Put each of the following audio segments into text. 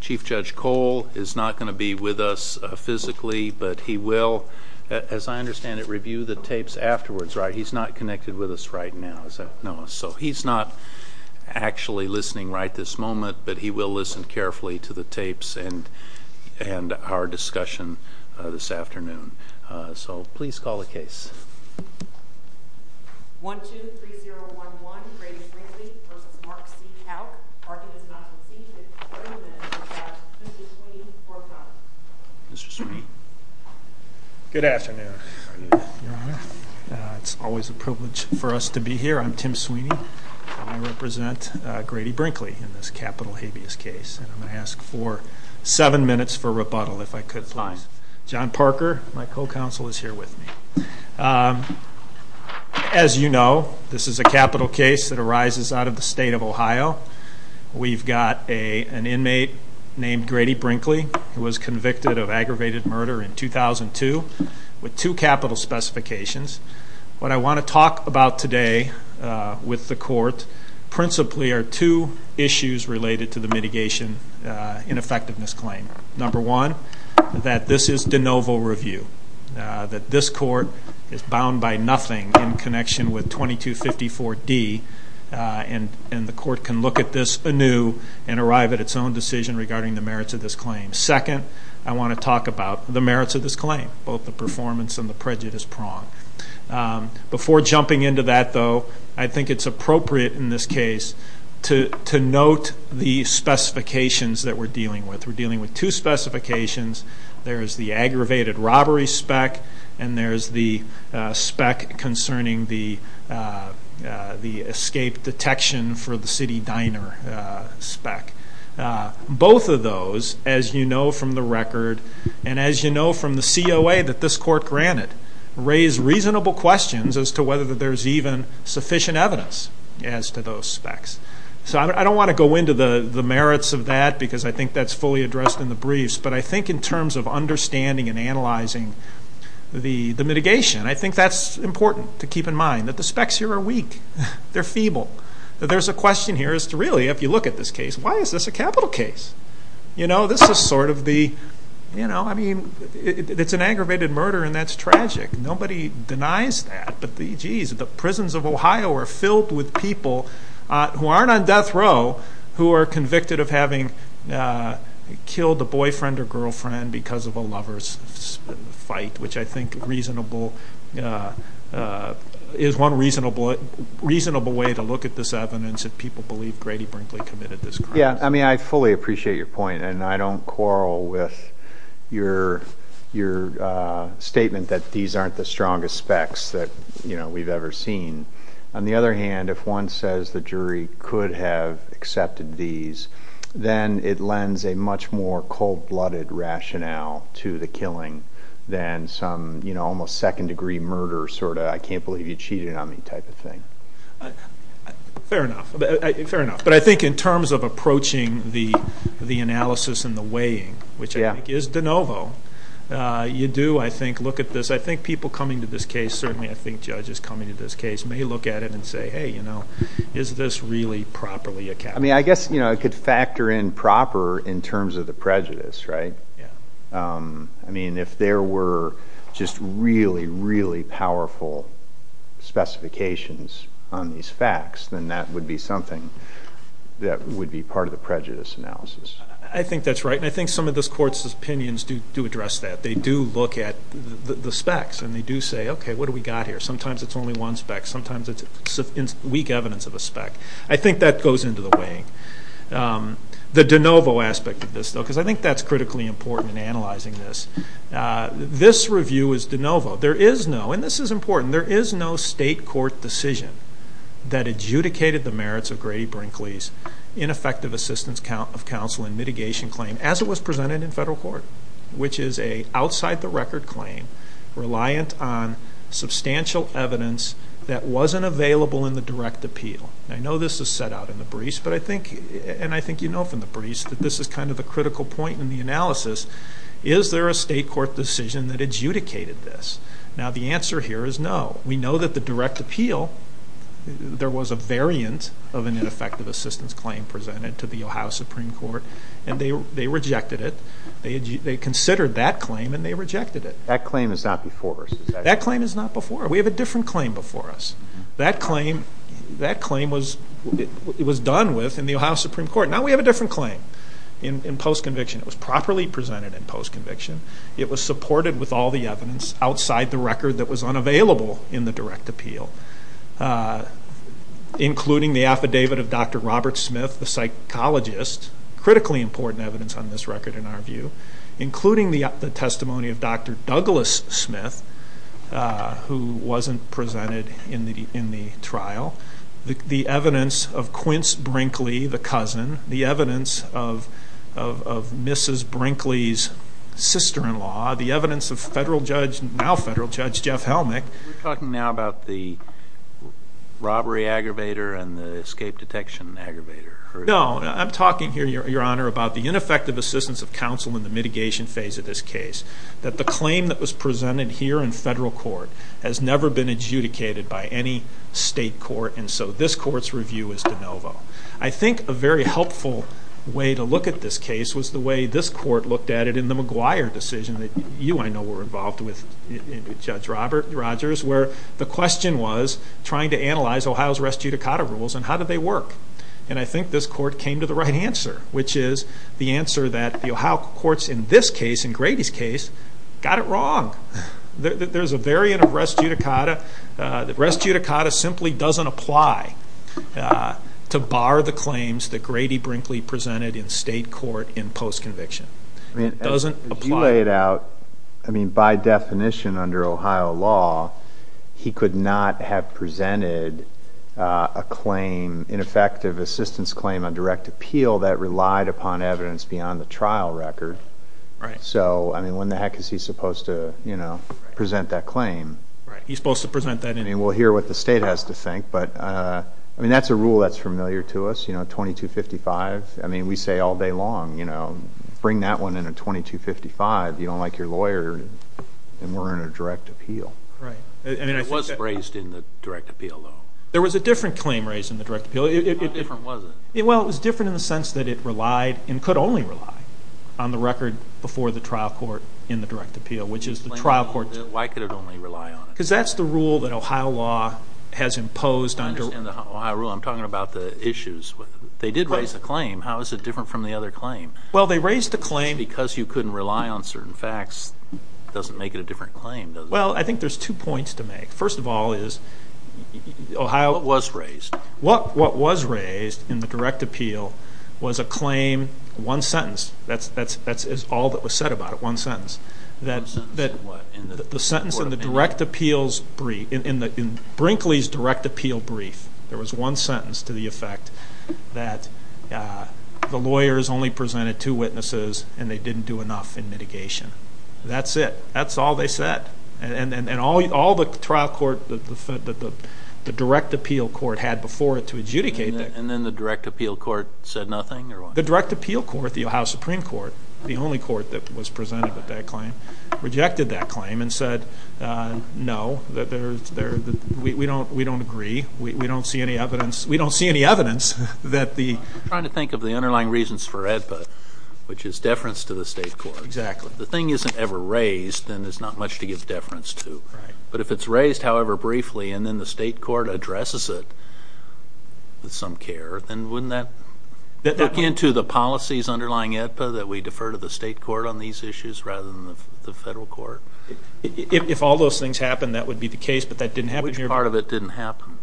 Chief Judge Cole is not going to be with us physically, but he will, as I understand it, review the tapes afterwards, right? He's not connected with us right now, is that right? No. So he's not actually listening right this moment, but he will listen carefully to the tapes and our discussion this afternoon. So please call the case. Good afternoon. It's always a privilege for us to be here. I'm Tim Sweeney. I represent Grady Brinkley in this capital habeas case. And I'm going to ask for seven minutes for rebuttal, if I could, please. John Parker, my co-counsel, is here with me. As you know, this is a capital case that arises out of the state of Ohio. We've got an inmate named Grady Brinkley, who was convicted of aggravated murder in 2002 with two capital specifications. What I want to talk about today with the court principally are two issues related to the mitigation ineffectiveness claim. Number one, that this is de novo review, that this court is bound by nothing in connection with 2254D, and the court can look at this anew and arrive at its own decision regarding the merits of this claim. Second, I want to talk about the merits of this claim, both the performance and the prejudice prong. Before jumping into that, though, I think it's appropriate in this case to note the specifications that we're dealing with. We're dealing with two specifications. There's the aggravated robbery spec, and there's the spec concerning the escape detection for the city diner spec. Both of those, as you know from the record and as you know from the COA that this court granted, raise reasonable questions as to whether there's even sufficient evidence as to those specs. So I don't want to go into the merits of that because I think that's fully addressed in the briefs, but I think in terms of understanding and analyzing the mitigation, I think that's important to keep in mind, that the specs here are weak. They're feeble. There's a question here as to really, if you look at this case, why is this a capital case? You know, this is sort of the, you know, I mean, it's an aggravated murder and that's tragic. Nobody denies that, but, geez, the prisons of Ohio are filled with people who aren't on death row who are convicted of having killed a boyfriend or girlfriend because of a lover's fight, which I think is one reasonable way to look at this evidence if people believe Grady Brinkley committed this crime. Yeah, I mean, I fully appreciate your point and I don't quarrel with your statement that these aren't the strongest specs that, you know, we've ever seen. On the other hand, if one says the jury could have accepted these, then it lends a much more cold-blooded rationale to the killing than some, you know, almost second-degree murder sort of I can't believe you cheated on me type of thing. Fair enough, but I think in terms of approaching the analysis and the weighing, which I think is de novo, you do, I think, look at this, I think people coming to this case, certainly I think judges coming to this case, may look at it and say, hey, you know, is this really properly a capital case? I mean, I guess, you know, I could factor in proper in terms of the prejudice, right? I mean, if there were just really, really powerful specifications on these facts, then that would be something that would be part of the prejudice analysis. I think that's right and I think some of this court's opinions do address that. They do look at the specs and they do say, okay, what do we got here? Sometimes it's only one spec, sometimes it's weak evidence of a spec. I think that goes into the weighing. The de novo aspect of this, though, because I think that's critically important in analyzing this. This review is de novo. There is no, and this is important, there is no state court decision that adjudicated the merits of Grady Brinkley's ineffective assistance of counsel and mitigation claim as it was presented in federal court, which is an outside-the-record claim reliant on substantial evidence that wasn't available in the direct appeal. I know this is set out in the briefs, but I think, and I think you know from the briefs, that this is kind of a critical point in the analysis. Is there a state court decision that adjudicated this? Now, the answer here is no. We know that the direct appeal, there was a variant of an ineffective assistance claim presented to the Ohio Supreme Court and they rejected it. They considered that claim and they rejected it. That claim is not before us. That claim is not before us. We have a different claim before us. That claim, that claim was done with in the Ohio Supreme Court. Now we have a different claim in post-conviction. It was properly presented in post-conviction. It was supported with all the evidence outside the record that was unavailable in the direct appeal, including the affidavit of Dr. Robert Smith, the psychologist, critically important evidence on this record in our view, including the testimony of Dr. Douglas Smith, who wasn't presented in the trial, the evidence of Quince Brinkley, the cousin, the evidence of Mrs. Brinkley's sister-in-law, the evidence of federal judge, now federal judge, Jeff Helmick. You're talking now about the robbery aggravator and the escape detection aggravator. No, I'm talking here, Your Honor, about the ineffective assistance of counsel in the mitigation phase of this case. That the claim that was presented here in federal court has never been adjudicated by any state court, and so this court's review is de novo. I think a very helpful way to look at this case was the way this court looked at it in the McGuire decision that you, I know, were involved with, Judge Rogers, where the question was trying to analyze Ohio's res judicata rules and how do they work. And I think this court came to the right answer, which is the answer that the Ohio courts in this case, in Grady's case, got it wrong. There's a variant of res judicata. Res judicata simply doesn't apply to bar the claims that Grady Brinkley presented in state court in post-conviction. It doesn't apply. You laid out, I mean, by definition under Ohio law, he could not have presented a claim, ineffective assistance claim on direct appeal that relied upon evidence beyond the trial record. Right. So, I mean, when the heck is he supposed to, you know, present that claim? Right. He's supposed to present that and we'll hear what the state has to think, but, I mean, that's a rule that's familiar to us, you know, 2255. I mean, we say all day long, you know, bring that one in a 2255. You don't like your lawyer and we're in a direct appeal. Right. It was raised in the direct appeal though. There was a different claim raised in the direct appeal. How different was it? Well, it was different in the sense that it relied and could only rely on the record before the trial court in the direct appeal, which is the trial court. Why could it only rely on it? Because that's the rule that Ohio law has imposed on direct appeal. I understand the Ohio rule. I'm talking about the issues. They did raise the claim. How is it different from the other claim? Well, they raised the claim because you couldn't rely on certain facts. It doesn't make it a different claim, does it? Well, I think there's two points to make. First of all is Ohio was raised. What was raised in the direct appeal was a claim, one sentence. That's all that was said about it, one sentence. The sentence in the direct appeal's brief, in Brinkley's direct appeal brief, there was one sentence to the effect that the lawyers only presented two witnesses and they didn't do enough in mitigation. That's it. That's all they said. And all the trial court, the direct appeal court had before it to adjudicate that. And then the direct appeal court said nothing? The direct appeal court, the Ohio Supreme Court, the only court that was presented with that claim, rejected that claim and said, No, we don't agree. We don't see any evidence that the – I'm trying to think of the underlying reasons for AEDPA, which is deference to the state court. Exactly. The thing isn't ever raised and there's not much to give deference to. But if it's raised, however, briefly and then the state court addresses it with some care, then wouldn't that look into the policies underlying AEDPA that we defer to the state court on these issues rather than the federal court? If all those things happened, that would be the case, but that didn't happen here. But part of it didn't happen.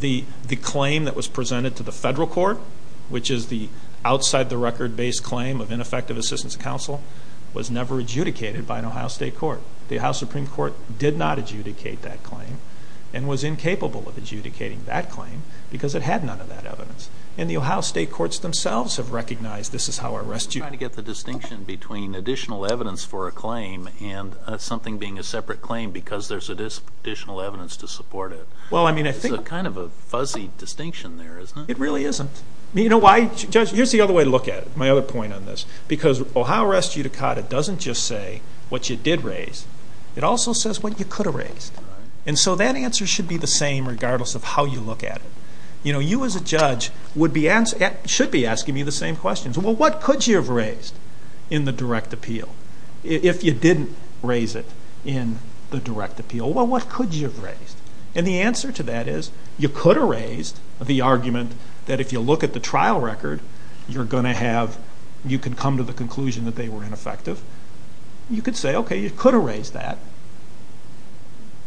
The claim that was presented to the federal court, which is the outside-the-record-based claim of ineffective assistance counsel, was never adjudicated by an Ohio State court. The Ohio Supreme Court did not adjudicate that claim and was incapable of adjudicating that claim because it had none of that evidence. And the Ohio State courts themselves have recognized this is how our rescue – I'm trying to get the distinction between additional evidence for a claim and something being a separate claim because there's additional evidence to support it. Well, I mean, I think – It's kind of a fuzzy distinction there, isn't it? It really isn't. You know why? Judge, here's the other way to look at it, my other point on this. Because Ohio arrest judicata doesn't just say what you did raise. It also says what you could have raised. And so that answer should be the same regardless of how you look at it. You know, you as a judge should be asking me the same questions. Well, what could you have raised in the direct appeal? If you didn't raise it in the direct appeal, well, what could you have raised? And the answer to that is you could have raised the argument that if you look at the trial record, you're going to have – you could come to the conclusion that they were ineffective. You could say, okay, you could have raised that.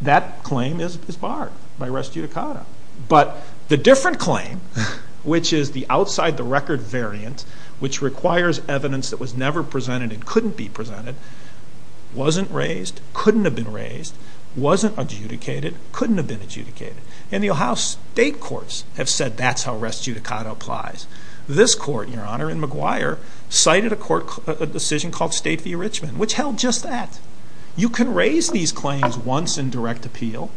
That claim is barred by arrest judicata. But the different claim, which is the outside-the-record variance, which requires evidence that was never presented and couldn't be presented, wasn't raised, couldn't have been raised, wasn't adjudicated, couldn't have been adjudicated. And the Ohio state courts have said that's how arrest judicata applies. This court, Your Honor, in McGuire, cited a court decision called State v. Richmond, which held just that. You can raise these claims once in direct appeal,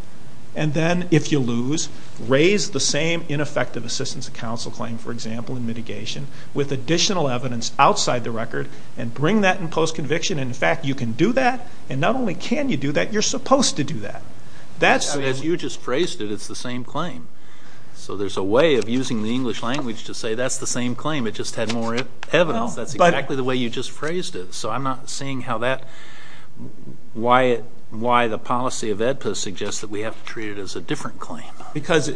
and then, if you lose, raise the same ineffective assistance of counsel claim, for example, in mitigation, with additional evidence outside the record, and bring that in post-conviction. And, in fact, you can do that, and not only can you do that, you're supposed to do that. That's the reason. If you just praised it, it's the same claim. So there's a way of using the English language to say that's the same claim. It just had more evidence. That's exactly the way you just praised it. So I'm not seeing why the policy of EDPA suggests that we have to treat it as a different claim. Because,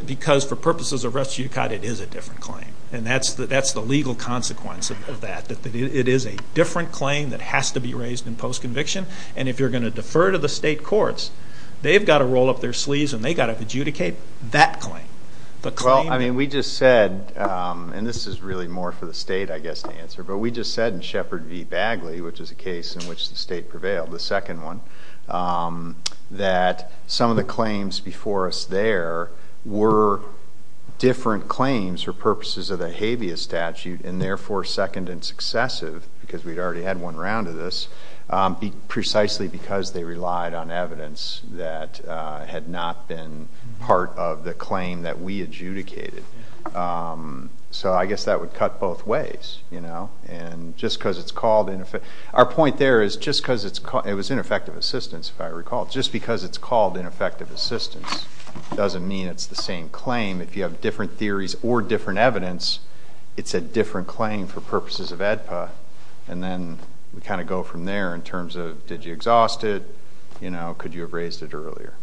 for purposes of arrest judicata, it is a different claim. And that's the legal consequence of that. It is a different claim that has to be raised in post-conviction, and if you're going to defer to the state courts, they've got to roll up their sleeves and they've got to adjudicate that claim. Well, I mean, we just said, and this is really more for the state, I guess, to answer, but we just said in Shepard v. Bagley, which is a case in which the state prevailed, the second one, that some of the claims before us there were different claims for purposes of a habeas statute and therefore second and successive, because we'd already had one round of this, precisely because they relied on evidence that had not been part of the claim that we adjudicated. So I guess that would cut both ways. Our point there is just because it's called ineffective assistance, if I recall, just because it's called ineffective assistance doesn't mean it's the same claim. If you have different theories or different evidence, it's a different claim for purposes of EDPA. And then we kind of go from there in terms of did you exhaust it, could you have raised it earlier.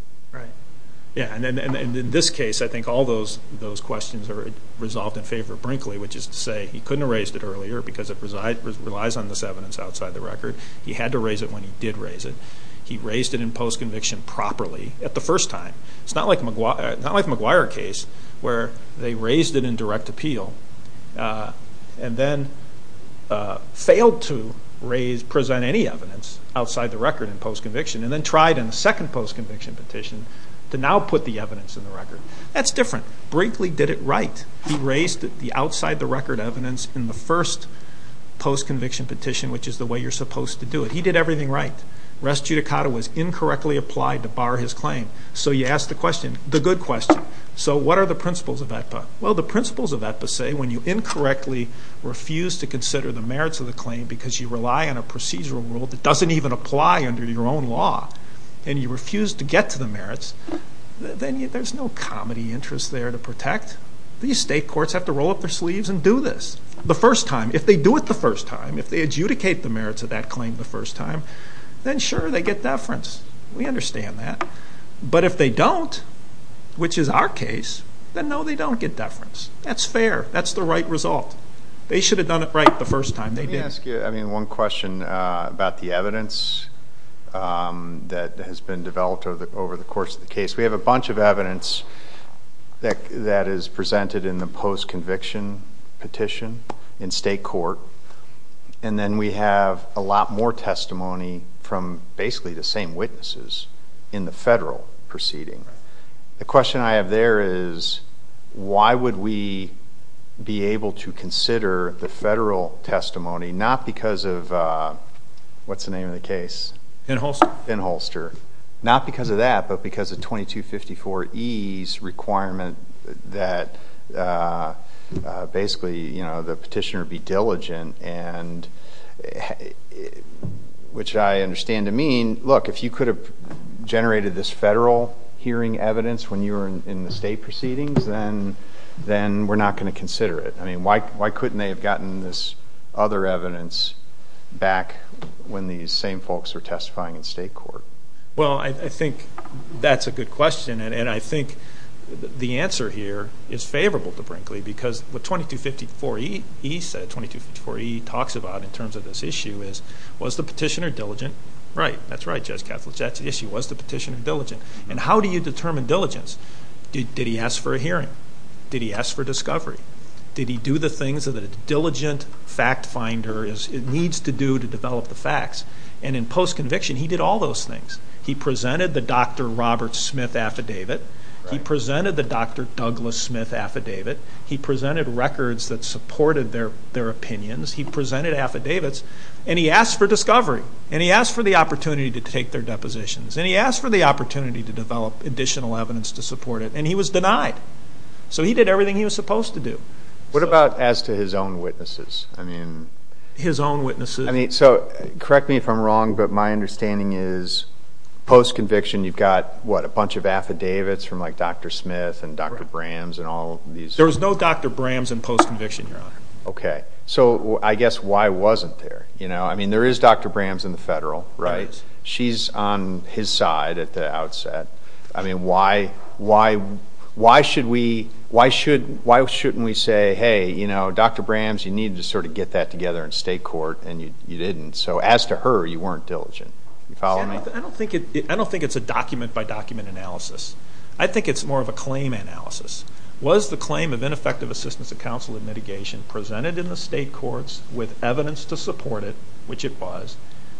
Yeah, and in this case, I think all those questions are resolved in favor of Brinkley, which is to say he couldn't have raised it earlier because it relies on this evidence outside the record. He had to raise it when he did raise it. He raised it in postconviction properly at the first time. It's not like a McGuire case where they raised it in direct appeal and then failed to present any evidence outside the record in postconviction and then tried in the second postconviction petition to now put the evidence in the record. That's different. Brinkley did it right. He raised the outside the record evidence in the first postconviction petition, which is the way you're supposed to do it. He did everything right. Res judicata was incorrectly applied to bar his claim. So you ask the question, the good question. So what are the principles of EDPA? Well, the principles of EDPA say when you incorrectly refuse to consider the merits of the claim because you rely on a procedural rule that doesn't even apply under your own law and you refuse to get to the merits, then there's no comedy interest there to protect. These state courts have to roll up their sleeves and do this the first time. If they do it the first time, if they adjudicate the merits of that claim the first time, then sure, they get deference. We understand that. But if they don't, which is our case, then, no, they don't get deference. That's fair. That's the right result. They should have done it right the first time. Let me ask you one question about the evidence that has been developed over the course of the case. We have a bunch of evidence that is presented in the post-conviction petition in state court, and then we have a lot more testimony from basically the same witnesses in the federal proceeding. The question I have there is why would we be able to consider the federal testimony, not because of what's the name of the case? Finholster. Finholster. Not because of that, but because of 2254E's requirement that basically the petitioner be diligent, which I understand to mean, look, if you could have generated this federal hearing evidence when you were in the state proceedings, then we're not going to consider it. I mean, why couldn't they have gotten this other evidence back when these same folks were testifying in state court? Well, I think that's a good question, and I think the answer here is favorable to Brinkley because what 2254E talks about in terms of this issue is was the petitioner diligent? Right, that's right, Judge Kappel. That's the issue. Was the petitioner diligent? And how do you determine diligence? Did he ask for a hearing? Did he ask for discovery? Did he do the things that a diligent fact finder needs to do to develop the facts? And in post-conviction, he did all those things. He presented the Dr. Robert Smith affidavit. He presented the Dr. Douglas Smith affidavit. He presented records that supported their opinions. He presented affidavits, and he asked for discovery, and he asked for the opportunity to take their depositions, and he asked for the opportunity to develop additional evidence to support it, and he was denied. So he did everything he was supposed to do. What about as to his own witnesses? I mean, so correct me if I'm wrong, but my understanding is post-conviction you've got, what, a bunch of affidavits from, like, Dr. Smith and Dr. Brams and all of these. There was no Dr. Brams in post-conviction, no. Okay. So I guess why wasn't there? I mean, there is Dr. Brams in the federal, right? She's on his side at the outset. I mean, why shouldn't we say, hey, you know, Dr. Brams, you needed to sort of get that together in state court, and you didn't. So as to her, you weren't diligent. I don't think it's a document-by-document analysis. I think it's more of a claim analysis. Was the claim of ineffective assistance of counsel and mitigation presented in the state courts with evidence to support it, which it was,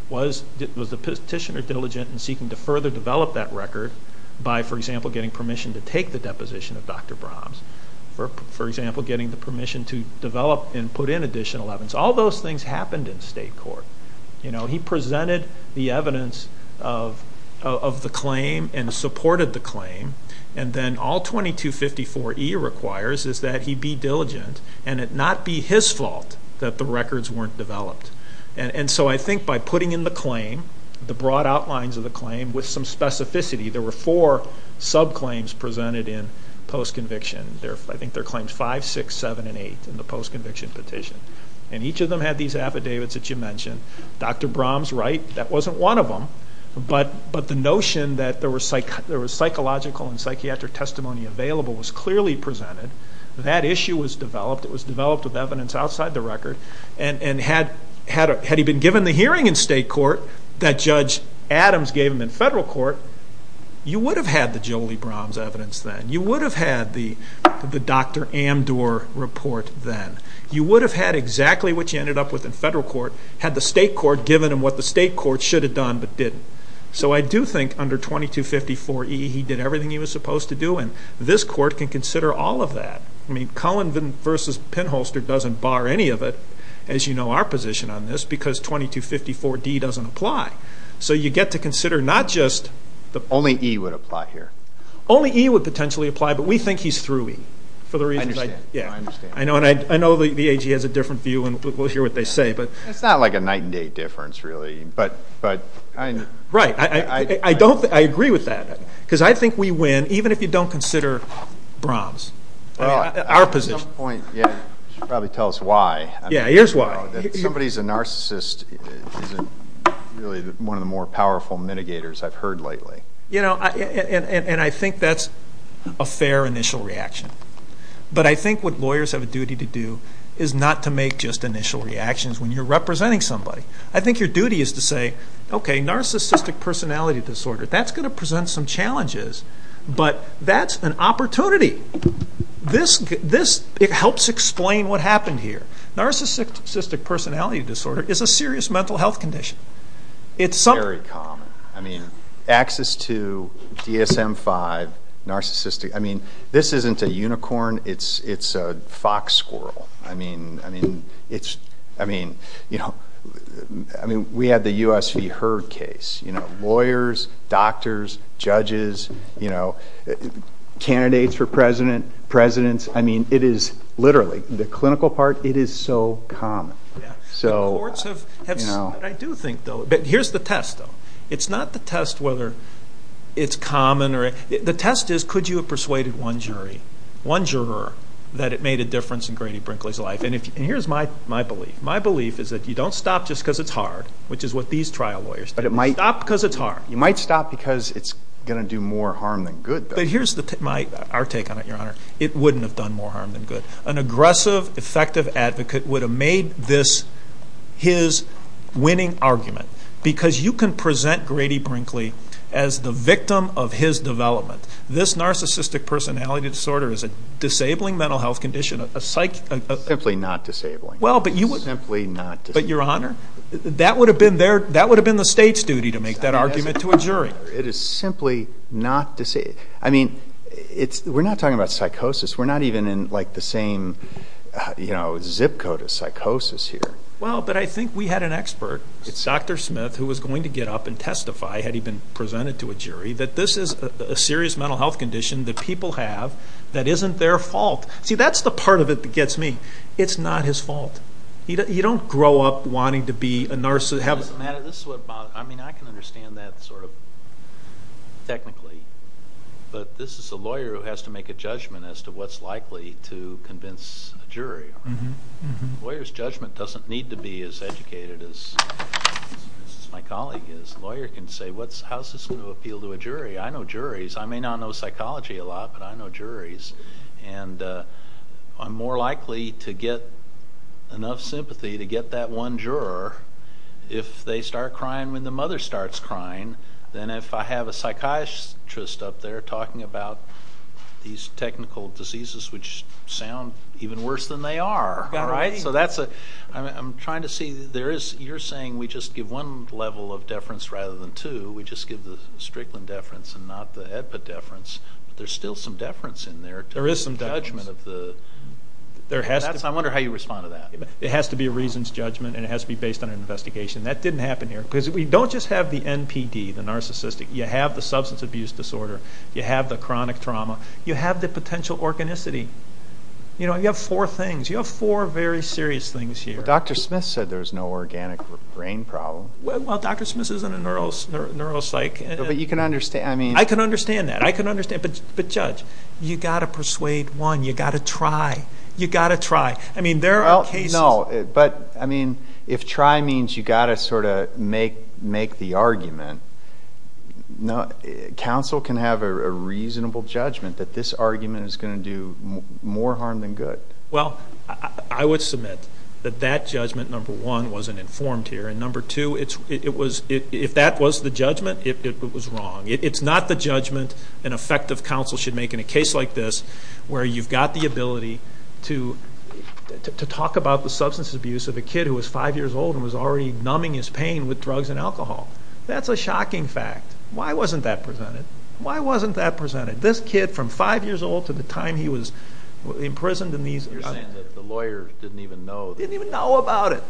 was the petitioner diligent in seeking to further develop that record by, for example, getting permission to take the deposition of Dr. Brams or, for example, getting the permission to develop and put in additional evidence? All those things happened in state court. You know, he presented the evidence of the claim and supported the claim, and then all 2254E requires is that he be diligent and it not be his fault that the records weren't developed. And so I think by putting in the claim, the broad outlines of the claim, with some specificity, there were four sub-claims presented in post-conviction. I think they're claims 5, 6, 7, and 8 in the post-conviction petition. And each of them had these affidavits that you mentioned. Dr. Brams, right, that wasn't one of them. But the notion that there was psychological and psychiatric testimony available was clearly presented. That issue was developed. It was developed with evidence outside the record. And had he been given the hearing in state court that Judge Adams gave him in federal court, you would have had the Jolie Brams evidence then. You would have had the Dr. Amdor report then. You would have had exactly what you ended up with in federal court, had the state court given him what the state court should have done but didn't. So I do think under 2254E he did everything he was supposed to do, and this court can consider all of that. I mean, Cohen v. Pinholster doesn't bar any of it, as you know our position on this, because 2254D doesn't apply. So you get to consider not just... Only E would apply here. Only E would potentially apply, but we think he's through E. I understand. Yeah, I understand. I know the AG has a different view, and we'll hear what they say. It's not like a night and day difference, really. Right. I agree with that. Because I think we win, even if you don't consider Brams, our position. At some point, you should probably tell us why. Yeah, here's why. Somebody's a narcissist isn't really one of the more powerful mitigators I've heard lately. You know, and I think that's a fair initial reaction. But I think what lawyers have a duty to do is not to make just initial reactions when you're representing somebody. I think your duty is to say, okay, narcissistic personality disorder, that's going to present some challenges, but that's an opportunity. It helps explain what happened here. Narcissistic personality disorder is a serious mental health condition. It's very common. I mean, access to ESM-5, narcissistic, I mean, this isn't a unicorn. It's a fox squirrel. I mean, you know, we have the U.S. v. Heard case. You know, lawyers, doctors, judges, you know, candidates for president, presidents. I mean, it is literally, the clinical part, it is so common. The courts have said what I do think, though. But here's the test, though. It's not the test whether it's common. The test is could you have persuaded one jury, one juror, that it made a difference in Grady Brinkley's life. And here's my belief. My belief is that you don't stop just because it's hard, which is what these trial lawyers say. You stop because it's hard. You might stop because it's going to do more harm than good. But here's our take on it, Your Honor. It wouldn't have done more harm than good. An aggressive, effective advocate would have made this his winning argument because you can present Grady Brinkley as the victim of his development. This narcissistic personality disorder is a disabling mental health condition. Simply not disabling. Well, but you would. Simply not disabling. But, Your Honor, that would have been the state's duty to make that argument to a jury. It is simply not disabling. I mean, we're not talking about psychosis. We're not even in, like, the same zip code of psychosis here. Well, but I think we had an expert. It's Dr. Smith who was going to get up and testify, had he been presented to a jury, that this is a serious mental health condition that people have that isn't their fault. See, that's the part of it that gets me. It's not his fault. You don't grow up wanting to be a nurse. This is what bothers me. I mean, I can understand that sort of technically. But this is a lawyer who has to make a judgment as to what's likely to convince a jury. A lawyer's judgment doesn't need to be as educated as my colleague is. A lawyer can say, how's this going to appeal to a jury? I know juries. I may not know psychology a lot, but I know juries. And I'm more likely to get enough sympathy to get that one juror. If they start crying when the mother starts crying, then if I have a psychiatrist up there talking about these technical diseases, which sound even worse than they are, all right? So that's a – I'm trying to see. You're saying we just give one level of deference rather than two. We just give the Strickland deference and not the AEDPA deference. But there's still some deference in there. There is some deference. Judgment of the – I wonder how you respond to that. It has to be a reasons judgment and it has to be based on an investigation. That didn't happen here. Because we don't just have the NPD, the narcissistic. You have the substance abuse disorder. You have the chronic trauma. You have the potential organicity. You know, you have four things. You have four very serious things here. Dr. Smith said there's no organic brain problem. Well, Dr. Smith isn't a neuropsych. But you can understand. I can understand that. I can understand. But, Judge, you've got to persuade one. You've got to try. You've got to try. I mean, there are cases. Well, no. But, I mean, if try means you've got to sort of make the argument, counsel can have a reasonable judgment that this argument is going to do more harm than good. Well, I would submit that that judgment, number one, wasn't informed here. And number two, if that was the judgment, it was wrong. It's not the judgment an effective counsel should make in a case like this where you've got the ability to talk about the substance abuse of a kid who was five years old and was already numbing his pain with drugs and alcohol. That's a shocking fact. Why wasn't that presented? Why wasn't that presented? This kid, from five years old to the time he was imprisoned. You're saying that the lawyers didn't even know. Didn't even know about it.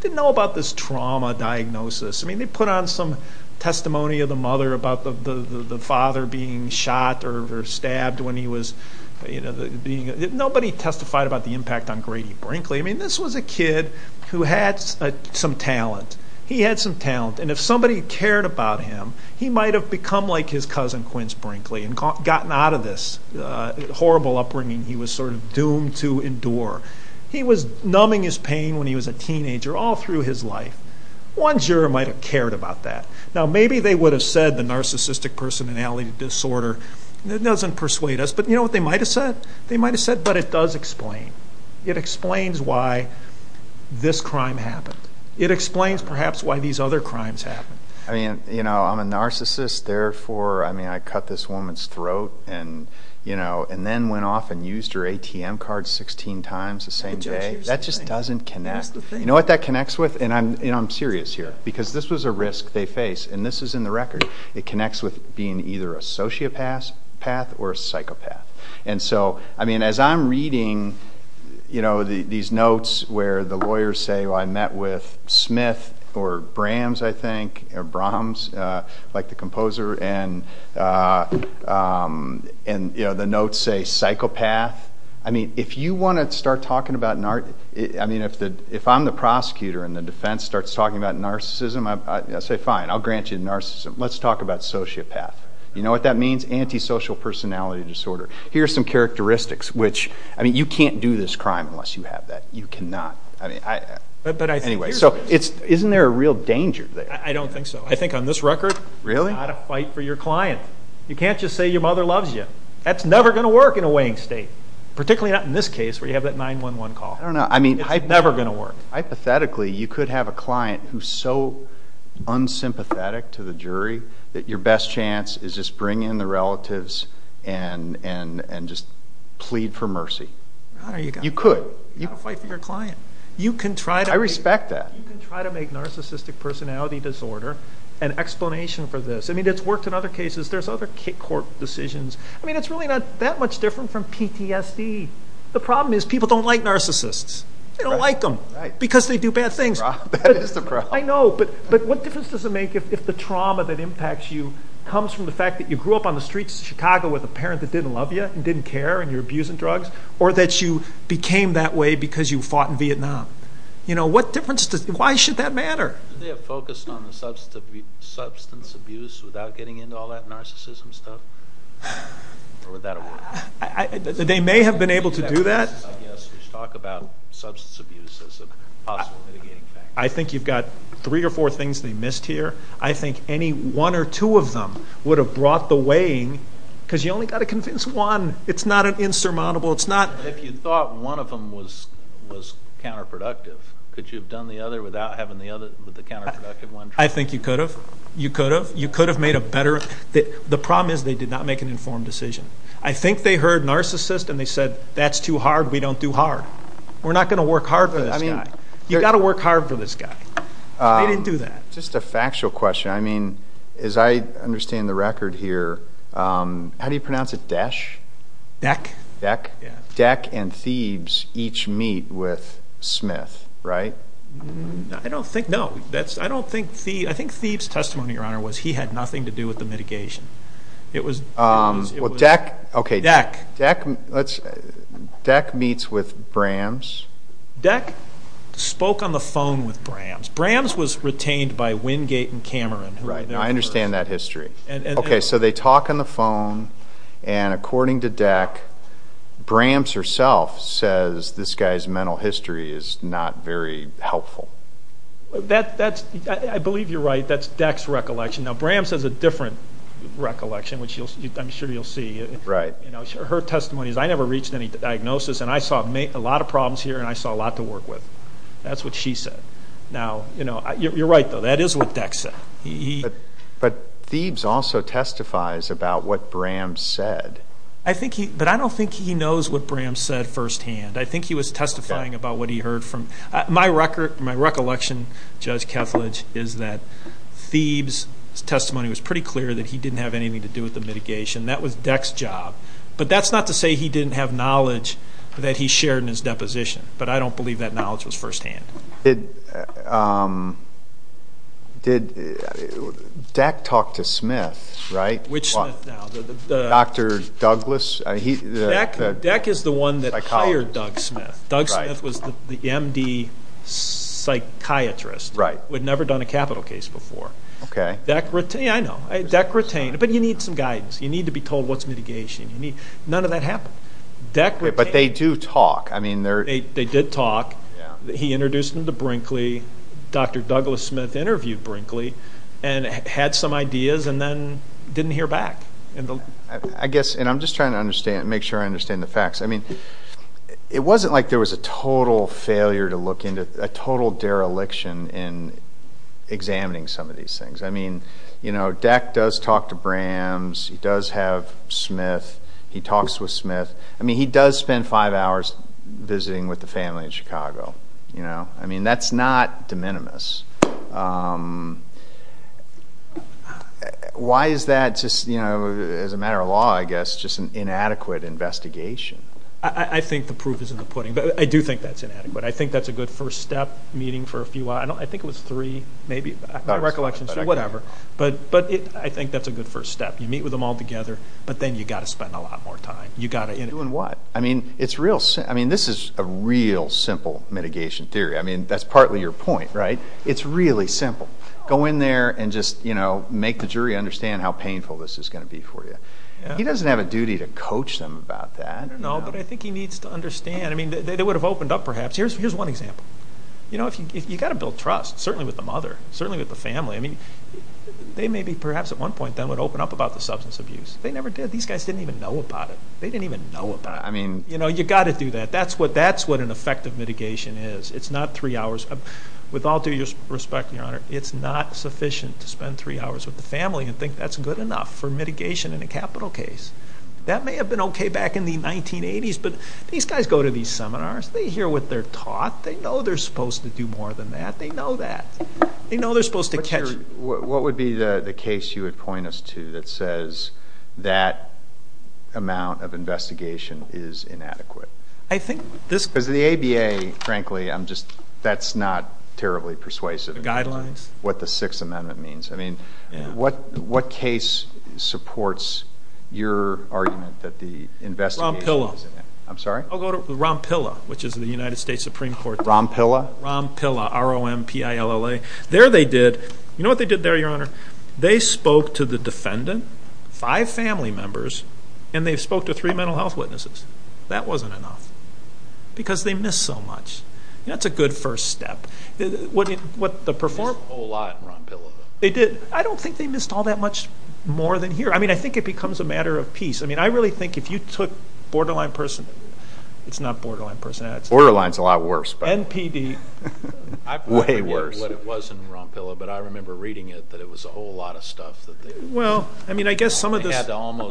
Didn't know about this trauma diagnosis. I mean, they put on some testimony of the mother about the father being shot or stabbed when he was, you know, being, nobody testified about the impact on Grady Brinkley. I mean, this was a kid who had some talent. He had some talent. And if somebody cared about him, he might have become like his cousin, Quince Brinkley, and gotten out of this horrible upbringing he was sort of doomed to endure. He was numbing his pain when he was a teenager all through his life. One juror might have cared about that. Now, maybe they would have said the narcissistic personality disorder doesn't persuade us. But you know what they might have said? They might have said, but it does explain. It explains why this crime happened. It explains, perhaps, why these other crimes happened. I mean, you know, I'm a narcissist, therefore, I mean, I cut this woman's throat and then went off and used her ATM card 16 times the same day. That just doesn't connect. You know what that connects with? And I'm serious here because this was a risk they faced, and this is in the record. It connects with being either a sociopath or a psychopath. And so, I mean, as I'm reading, you know, these notes where the lawyers say, well, I met with Smith or Brahms, I think, or Brahms, like the composer, and, you know, the notes say psychopath. I mean, if you want to start talking about an art, I mean, if I'm the prosecutor and the defense starts talking about narcissism, I say, fine, I'll grant you narcissism. Let's talk about sociopath. You know what that means? Antisocial personality disorder. Here are some characteristics, which, I mean, you can't do this crime unless you have that. You cannot. Anyway, so isn't there a real danger there? I don't think so. I think on this record, you've got to fight for your client. You can't just say your mother loves you. That's never going to work in a Wayne State, particularly not in this case where you have that 911 call. I don't know. I mean, it's never going to work. Hypothetically, you could have a client who's so unsympathetic to the jury that your best chance is just bring in the relatives and just plead for mercy. You could. You can fight for your client. I respect that. You can try to make narcissistic personality disorder an explanation for this. I mean, it's worked in other cases. There's other court decisions. I mean, it's really not that much different from PTSD. The problem is people don't like narcissists. They don't like them because they do bad things. I know, but what difference does it make if the trauma that impacts you comes from the fact that you grew up on the streets of Chicago with a parent that didn't love you and didn't care and you were abusing drugs or that you became that way because you fought in Vietnam? Why should that matter? They're focused on the substance abuse without getting into all that narcissism stuff? Or would that have worked? They may have been able to do that. Just talk about substance abuse as a possible mitigating factor. I think you've got three or four things they missed here. I think any one or two of them would have brought the weighing because you only got to convince one. It's not insurmountable. If you thought one of them was counterproductive, could you have done the other without having the counterproductive one? I think you could have. You could have. You could have made a better. The problem is they did not make an informed decision. I think they heard narcissist and they said, that's too hard, we don't do hard. We're not going to work hard for this guy. You've got to work hard for this guy. They didn't do that. Just a factual question. I mean, as I understand the record here, how do you pronounce it, Desch? Beck. Beck. Beck and Thebes each meet with Smith, right? I don't think so. I think Thebes' testimony, Your Honor, was he had nothing to do with the mitigation. It was Dech. Dech meets with Brams. Dech spoke on the phone with Brams. Brams was retained by Wingate and Cameron. I understand that history. Okay, so they talk on the phone, and according to Dech, Brams herself says this guy's mental history is not very helpful. I believe you're right. That's Dech's recollection. Now, Brams has a different recollection, which I'm sure you'll see. Right. Her testimony is, I never reached any diagnosis, and I saw a lot of problems here and I saw a lot to work with. That's what she said. You're right, though. That is what Dech said. But Thebes also testifies about what Brams said. But I don't think he knows what Brams said firsthand. I think he was testifying about what he heard. My recollection, Judge Kethledge, is that Thebes' testimony was pretty clear that he didn't have anything to do with the mitigation. That was Dech's job. But that's not to say he didn't have knowledge that he shared in his deposition, but I don't believe that knowledge was firsthand. Did Dech talk to Smith, right? Dr. Douglas? Dech is the one that hired Doug Smith. Doug Smith was the MD psychiatrist. Right. Who had never done a capital case before. Okay. Yeah, I know. Dech retained. But you need some guidance. You need to be told what's mitigation. None of that happened. But they do talk. They did talk. He introduced them to Brinkley. Dr. Douglas Smith interviewed Brinkley and had some ideas and then didn't hear back. I guess, and I'm just trying to make sure I understand the facts. I mean, it wasn't like there was a total failure to look into, a total dereliction in examining some of these things. I mean, you know, Dech does talk to Brams. He does have Smith. He talks with Smith. I mean, he does spend five hours visiting with the family in Chicago. I mean, that's not de minimis. Why is that just, you know, as a matter of law, I guess, just an inadequate investigation? I think the proof is in the pudding. But I do think that's inadequate. I think that's a good first step, meeting for a few hours. I think it was three, maybe. My recollection is three, whatever. But I think that's a good first step. You meet with them all together. But then you've got to spend a lot more time. You've got to. Do what? I mean, this is a real simple mitigation theory. I mean, that's partly your point, right? It's really simple. Go in there and just, you know, make the jury understand how painful this is going to be for you. He doesn't have a duty to coach them about that. No, but I think he needs to understand. I mean, they would have opened up perhaps. Here's one example. You know, you've got to build trust, certainly with the mother, certainly with the family. I mean, they maybe perhaps at one point then would open up about the substance abuse. They never did. These guys didn't even know about it. They didn't even know about it. I mean. You know, you've got to do that. That's what an effective mitigation is. It's not three hours. With all due respect, Your Honor, it's not sufficient to spend three hours with the family and think that's good enough for mitigation in a capital case. That may have been okay back in the 1980s, but these guys go to these seminars. They hear what they're taught. They know they're supposed to do more than that. They know that. They know they're supposed to catch. What would be the case you would point us to that says that amount of investigation is inadequate? I think the ABA, frankly, that's not terribly persuasive. Guidelines? What the Sixth Amendment means. I mean, what case supports your argument that the investigation... Rompilla. I'm sorry? I'll go to Rompilla, which is the United States Supreme Court. Rompilla? Rompilla, R-O-M-P-I-L-L-A. There they did... You know what they did there, Your Honor? They spoke to the defendant, five family members, and they spoke to three mental health witnesses. That wasn't enough because they missed so much. That's a good first step. They did a whole lot in Rompilla. They did. I don't think they missed all that much more than here. I mean, I think it becomes a matter of piece. I mean, I really think if you took Borderline Personality... It's not Borderline Personality. Borderline's a lot worse. NPD. Way worse. I don't remember what it was in Rompilla, but I remember reading it that it was a whole lot of stuff. Well, I mean, I guess some of the... Yeah.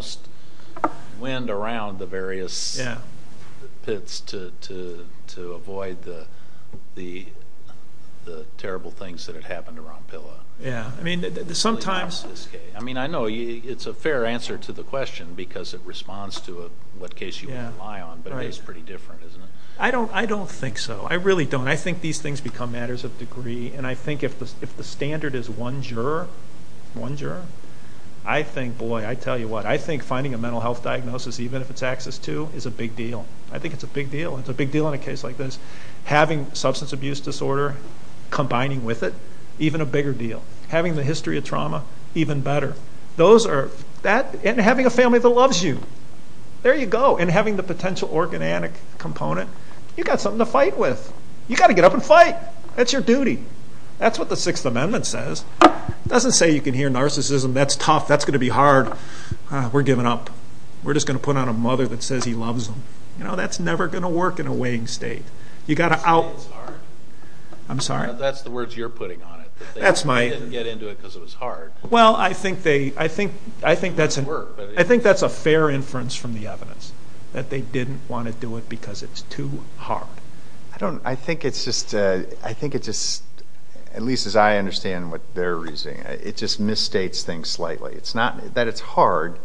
Yeah. I mean, sometimes... I don't think so. I really don't. I think these things become matters of degree, and I think if the standard is one juror, one juror, I think, boy, I tell you what, I think finding a mental health diagnosis, even if it's access to, is a big deal. I think it's a big deal. It's a big deal in a case like this. Having substance abuse disorder, combining with it, even a bigger deal. Having the history of trauma, even better. Those are... And having a family that loves you. There you go. And having the potential organanic component. You've got something to fight with. You've got to get up and fight. That's your duty. That's what the Sixth Amendment says. It doesn't say you can hear narcissism. That's tough. That's going to be hard. We're giving up. We're just going to put on a mother that says he loves them. No, that's never going to work in a weighing state. You've got to out... I'm sorry? That's the words you're putting on it. That's my... They didn't get into it because it was hard. Well, I think that's a fair inference from the evidence, that they didn't want to do it because it's too hard. I don't... I think it's just... I think it's just... At least as I understand what they're reasoning, it just misstates things slightly. It's not that it's hard.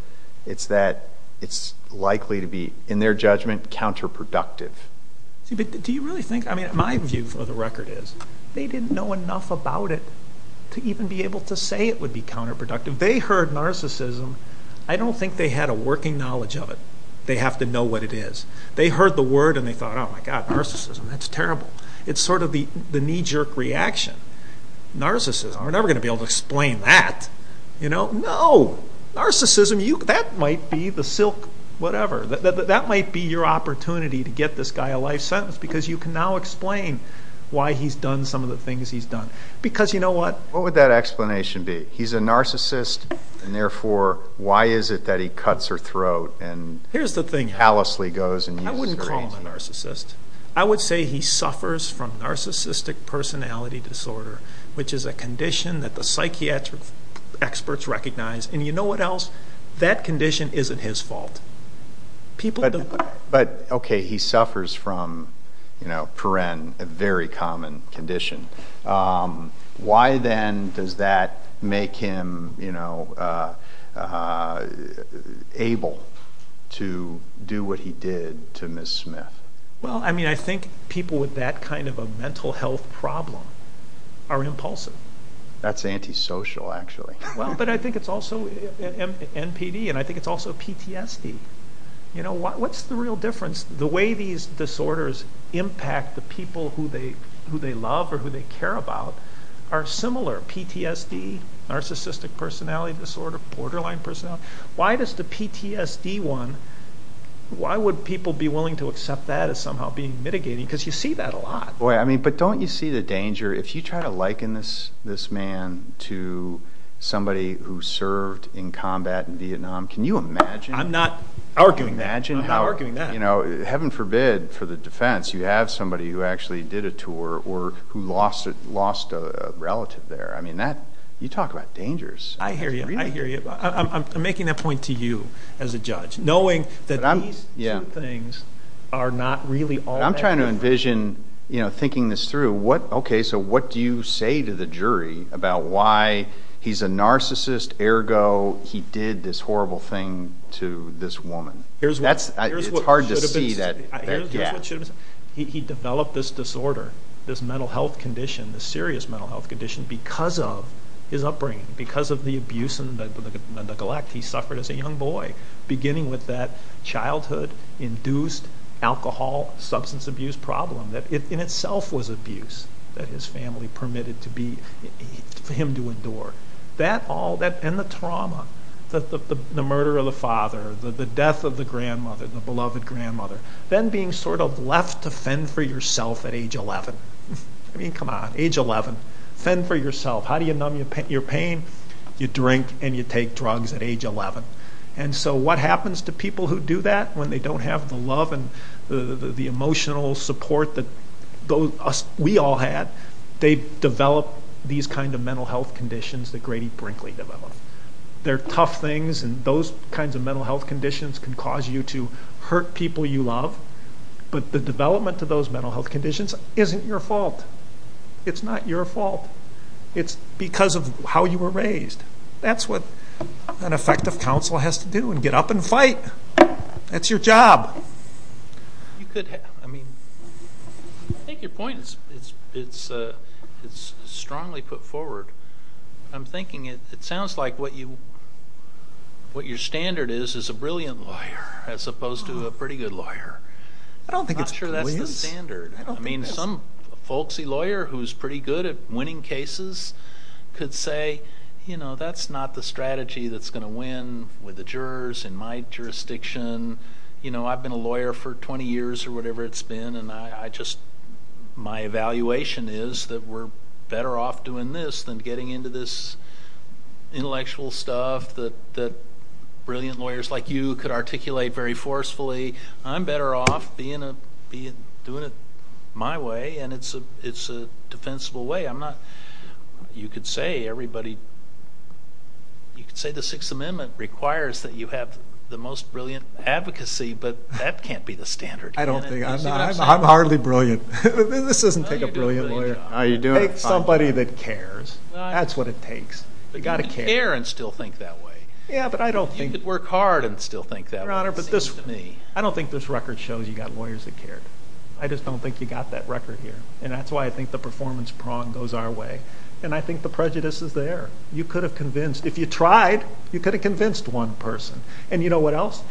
It's that it's likely to be, in their judgment, counterproductive. Do you really think... My view for the record is they didn't know enough about it to even be able to say it would be counterproductive. They heard narcissism. I don't think they had a working knowledge of it. They have to know what it is. They heard the word and they thought, oh, my God, narcissism, that's terrible. It's sort of the knee-jerk reaction. Narcissism, we're never going to be able to explain that. No, narcissism, that might be the silk, whatever. That might be your opportunity to get this guy a life sentence because you can now explain why he's done some of the things he's done. Because you know what? What would that explanation be? He's a narcissist, and therefore, why is it that he cuts her throat and callously goes and uses her hands? I wouldn't call him a narcissist. I would say he suffers from narcissistic personality disorder, which is a condition that the psychiatric experts recognize, and you know what else? That condition isn't his fault. But, okay, he suffers from, you know, Perrin, a very common condition. Why then does that make him, you know, able to do what he did to Ms. Smith? Well, I mean, I think people with that kind of a mental health problem are impulsive. That's antisocial, actually. Well, but I think it's also NPD, and I think it's also PTSD. You know, what's the real difference? The way these disorders impact the people who they love or who they care about are similar. PTSD, narcissistic personality disorder, borderline personality disorder. Why does the PTSD one, why would people be willing to accept that as somehow being mitigating? Because you see that a lot. Boy, I mean, but don't you see the danger? If you try to liken this man to somebody who served in combat in Vietnam, can you imagine? I'm not arguing that. Heaven forbid, for the defense, you have somebody who actually did a tour or who lost a relative there. I mean, you talk about dangers. I hear you. I'm making that point to you as a judge, knowing that these two things are not really all that different. I'm trying to envision thinking this through. Okay, so what do you say to the jury about why he's a narcissist, ergo he did this horrible thing to this woman? It's hard to see that. He developed this disorder, this mental health condition, this serious mental health condition because of his upbringing, because of the abuse and the neglect he suffered as a young boy, beginning with that childhood-induced alcohol substance abuse problem that in itself was abuse that his family permitted him to endure. That all, and the trauma, the murder of the father, the death of the grandmother, the beloved grandmother, then being sort of left to fend for yourself at age 11. I mean, come on, age 11, fend for yourself. How do you numb your pain? You drink and you take drugs at age 11. And so what happens to people who do that when they don't have the love and the emotional support that we all had? They develop these kinds of mental health conditions that Grady Brinkley developed. They're tough things, and those kinds of mental health conditions can cause you to hurt people you love, but the development of those mental health conditions isn't your fault. It's not your fault. It's because of how you were raised. That's what an effective counsel has to do, get up and fight. That's your job. I think your point is strongly put forward. I'm thinking it sounds like what your standard is is a brilliant lawyer as opposed to a pretty good lawyer. I'm not sure that's the standard. I mean, some folksy lawyer who's pretty good at winning cases could say, you know, that's not the strategy that's going to win with the jurors in my jurisdiction. You know, I've been a lawyer for 20 years or whatever it's been, and my evaluation is that we're better off doing this than getting into this intellectual stuff that brilliant lawyers like you could articulate very forcefully. I'm better off doing it my way, and it's a defensible way. You could say the Sixth Amendment requires that you have the most brilliant advocacy, but that can't be the standard. I'm hardly brilliant. This doesn't take a brilliant lawyer. Take somebody that cares. That's what it takes. You've got to care and still think that way. You could work hard and still think that way. Your Honor, I don't think this record shows you've got lawyers that care. I just don't think you've got that record here, and that's why I think the performance prong goes our way, and I think the prejudice is there. If you tried, you could have convinced one person. And you know what else?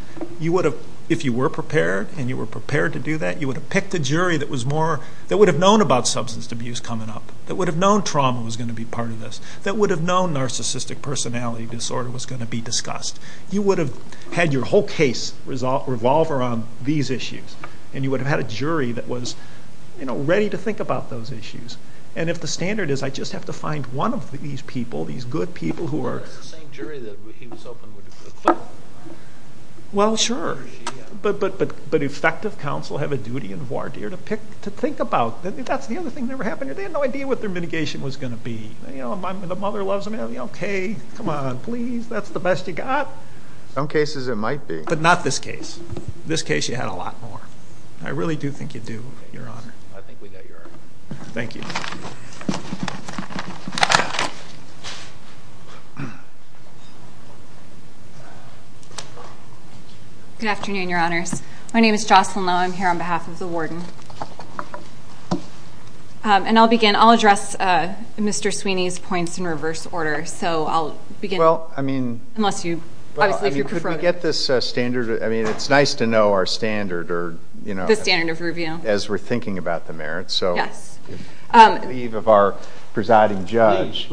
If you were prepared and you were prepared to do that, you would have picked a jury that would have known about substance abuse coming up, that would have known trauma was going to be part of this, that would have known narcissistic personality disorder was going to be discussed. You would have had your whole case revolve around these issues, and you would have had a jury that was ready to think about those issues. And if the standard is I just have to find one of these people, these good people who are... The same jury that he was open with before. Well, sure. But effective counsel have a duty and a warrant here to think about. The other thing that ever happened, they had no idea what their mitigation was going to be. The mother loves them. Okay, come on, please, that's the best you got. Some cases it might be. But not this case. This case you had a lot more. I really do think you do, Your Honor. I think we got your argument. Thank you. Good afternoon, Your Honor. My name is Jocelyn Lowe. I'm here on behalf of the warden. And I'll begin. I'll address Mr. Sweeney's points in reverse order. So I'll begin. Well, I mean... Unless you... Could we get this standard? I mean, it's nice to know our standard or, you know... The standard of review. As we're thinking about the merits, so... Yeah. I believe of our presiding judge.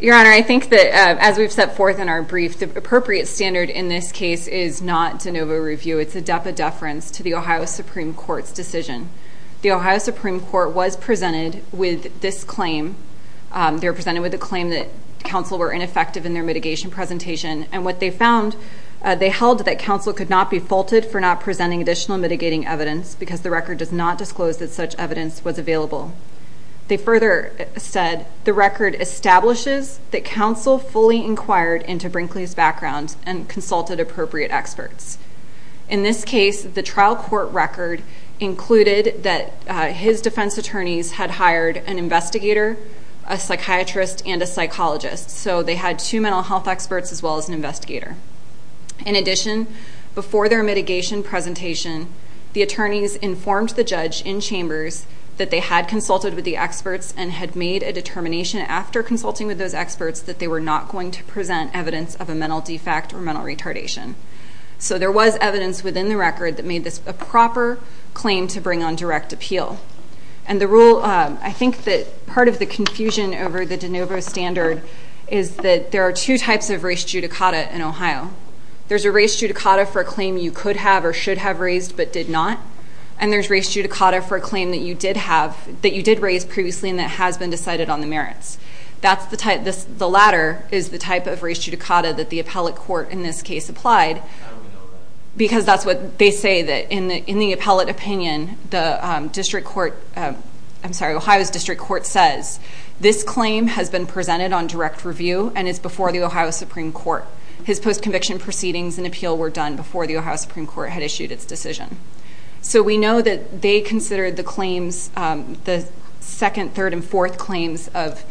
Your Honor, I think that as we've set forth in our briefs, the appropriate standard in this case is not de novo review. It's a deference to the Ohio Supreme Court's decision. The Ohio Supreme Court was presented with this claim. They were presented with a claim that counsel were ineffective in their mitigation presentation. And what they found, they held that counsel could not be faulted for not presenting additional mitigating evidence because the record does not disclose that such evidence was available. They further said, the record establishes that counsel fully inquired into Brinkley's background and consulted appropriate experts. In this case, the trial court record included that his defense attorneys had hired an investigator, a psychiatrist, and a psychologist. So they had two mental health experts as well as an investigator. In addition, before their mitigation presentation, the attorneys informed the judge in chambers that they had consulted with the experts and had made a determination after consulting with those experts that they were not going to present evidence of a mental defect or mental retardation. So there was evidence within the record that made this a proper claim to bring on direct appeal. And the rule... I think that part of the confusion over the de novo standard is that there are two types of res judicata in Ohio. There's a res judicata for a claim you could have or should have raised but did not. And there's res judicata for a claim that you did have... that you did raise previously and that has been decided on the merits. That's the type... The latter is the type of res judicata that the appellate court in this case applied because that's what they say that in the appellate opinion, the district court... I'm sorry, Ohio's district court says, this claim has been presented on direct review and it's before the Ohio Supreme Court. His post-conviction proceedings and appeal were done before the Ohio Supreme Court had issued its decision. So we know that they considered the claims... the second, third, and fourth claims of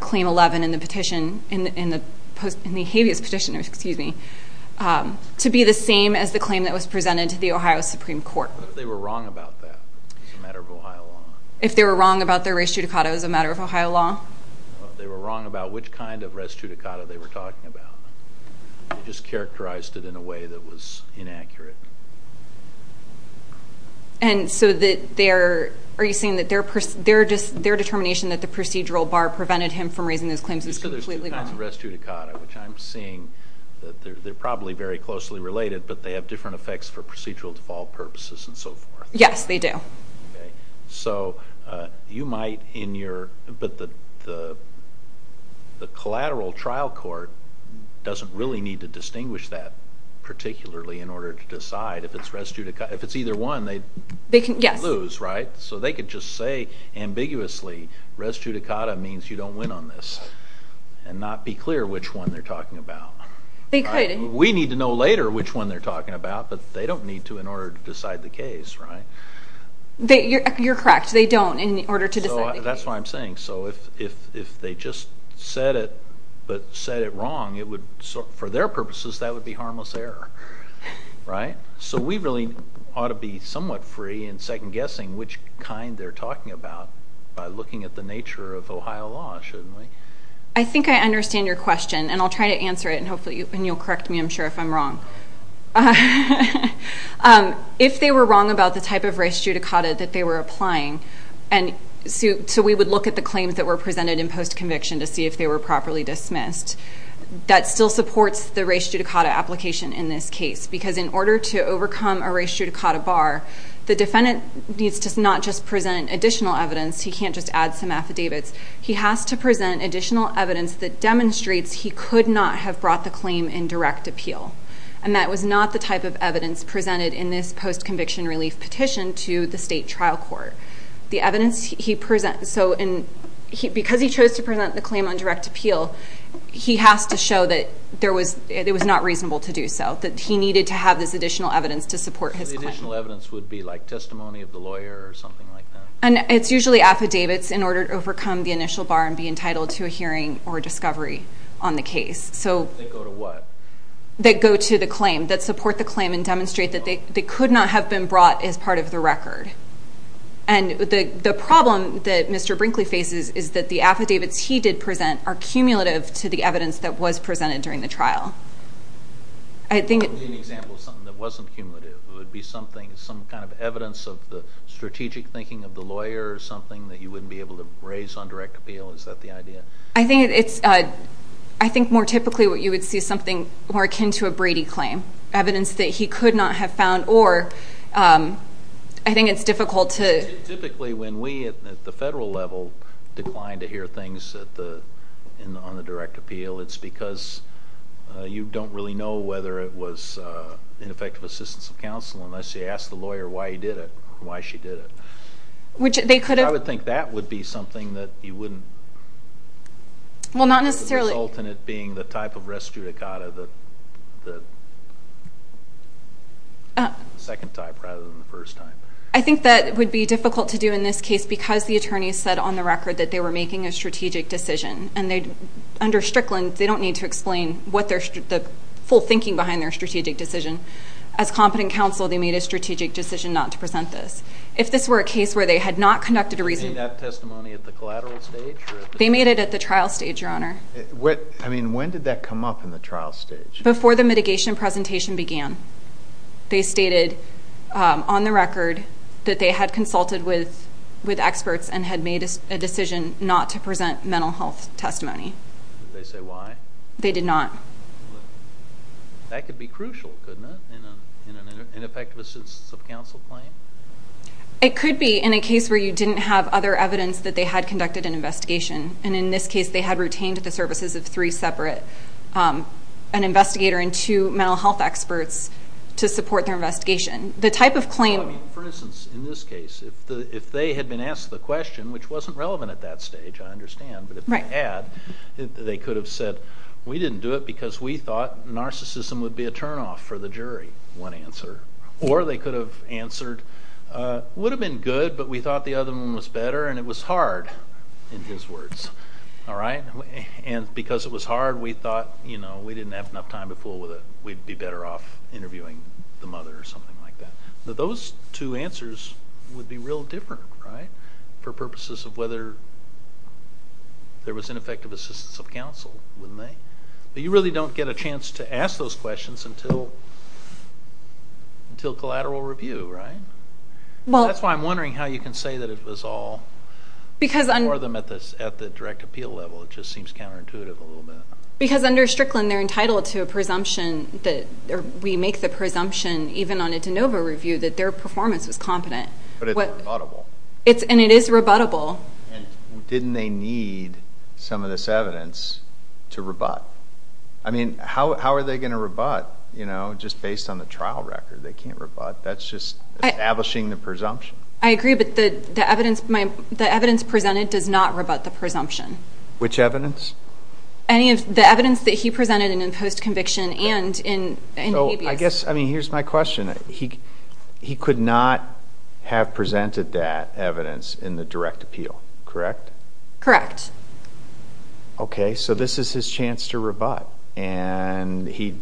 claim 11 in the petition... in the habeas petition, excuse me, to be the same as the claim that was presented to the Ohio Supreme Court. But they were wrong about that in the matter of Ohio law. If they were wrong about their res judicata as a matter of Ohio law? They were wrong about which kind of res judicata they were talking about. They just characterized it in a way that was inaccurate. And so that they're... Are you saying that they're just... their determination that the procedural bar prevented him from raising his claims is completely wrong? The res judicata, which I'm seeing, they're probably very closely related, but they have different effects for procedural default purposes and so forth. Yes, they do. Okay. So you might in your... But the collateral trial court doesn't really need to distinguish that particularly in order to decide if it's res judicata. If it's either one, they lose, right? So they could just say ambiguously, res judicata means you don't win on this and not be clear which one they're talking about. They could. We need to know later which one they're talking about, but they don't need to in order to decide the case, right? You're correct. They don't in order to decide the case. That's what I'm saying. So if they just said it, but said it wrong, for their purposes, that would be harmless error, right? So we really ought to be somewhat free in second-guessing which kind they're talking about by looking at the nature of Ohio law, shouldn't we? I think I understand your question, and I'll try to answer it, and you'll correct me, I'm sure, if I'm wrong. If they were wrong about the type of res judicata that they were applying, and so we would look at the claims that were presented in post-conviction to see if they were properly dismissed, that still supports the res judicata application in this case because in order to overcome a res judicata bar, the defendant needs to not just present additional evidence, he can't just add some affidavits, he has to present additional evidence that demonstrates he could not have brought the claim in direct appeal, and that was not the type of evidence presented in this post-conviction relief petition to the state trial court. Because he chose to present the claim on direct appeal, he has to show that it was not reasonable to do so, that he needed to have this additional evidence to support his claim. So the additional evidence would be like testimony of the lawyer or something like that? It's usually affidavits in order to overcome the initial bar and be entitled to a hearing or discovery on the case. They go to the claim, that support the claim and demonstrate that they could not have been brought as part of the record. And the problem that Mr. Brinkley faces is that the affidavits he did present are cumulative to the evidence that was presented during the trial. I think it's... For example, something that wasn't cumulative, it would be something, some kind of evidence of the strategic thinking of the lawyer or something that he wouldn't be able to raise on direct appeal, is that the idea? I think it's... I think more typically what you would see is something more akin to a Brady claim, evidence that he could not have found, or... I think it's difficult to... Typically when we at the federal level decline to hear things on the direct appeal, it's because you don't really know whether it was ineffective assistance of counsel unless you ask the lawyer why he did it, why she did it. I would think that would be something that you wouldn't... Well, not necessarily... The alternate being the type of res judicata, the second type rather than the first type. I think that would be difficult to do in this case because the attorney said on the record that they were making a strategic decision and under Strickland, they don't need to explain the full thinking behind their strategic decision. As competent counsel, they made a strategic decision not to present this. If this were a case where they had not conducted a... They made that testimony at the collateral stage? They made it at the trial stage, Your Honor. I mean, when did that come up in the trial stage? Before the mitigation presentation began. They stated on the record that they had consulted with experts and had made a decision not to present mental health testimony. Did they say why? They did not. That could be crucial, couldn't it, in an ineffective assistance of counsel claim? It could be in a case where you didn't have other evidence that they had conducted an investigation and in this case they had retained at the services as three separate, an investigator and two mental health experts to support their investigation. The type of claim... For instance, in this case, if they had been asked the question, which wasn't relevant at that stage, I understand, but if they had, they could have said, we didn't do it because we thought narcissism would be a turn-off for the jury, one answer. Or they could have answered, would have been good, but we thought the other one was better and it was hard, in his words, all right? And because it was hard, we thought, you know, we didn't have enough time to fool with it, we'd be better off interviewing the mother or something like that. But those two answers would be real different, right, for purposes of whether there was ineffective assistance of counsel, wouldn't they? But you really don't get a chance to ask those questions until collateral review, right? That's why I'm wondering how you can say that it was all for them at the direct appeal level. It just seems counterintuitive a little bit. Because under Strickland, they're entitled to a presumption, or we make the presumption, even on a de novo review, that their performance was competent. But it's rebuttable. And it is rebuttable. Didn't they need some of this evidence to rebut? I mean, how are they going to rebut, you know, just based on the trial record? They can't rebut. That's just establishing the presumption. I agree, but the evidence presented did not rebut the presumption. Which evidence? I mean, the evidence that he presented in the post-conviction and in the ABA. So I guess, I mean, here's my question. He could not have presented that evidence in the direct appeal, correct? Correct. Okay, so this is his chance to rebut. And he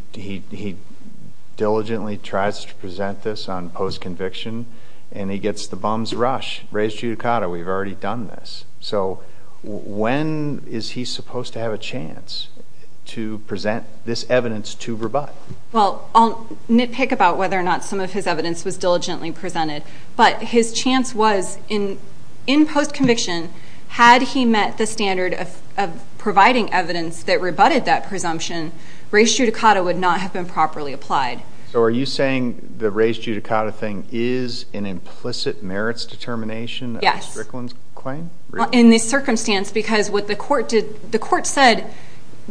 diligently tries to present this on post-conviction. And he gets the bum's rush. Res judicata. We've already done this. So when is he supposed to have a chance to present this evidence to rebut? Well, I'll nitpick about whether or not some of his evidence was diligently presented. But his chance was, in post-conviction, had he met the standard of providing evidence that rebutted that presumption, res judicata would not have been properly applied. So are you saying the res judicata thing is an implicit merits determination of Strickland's claim? Well, in this circumstance, because what the court did, the court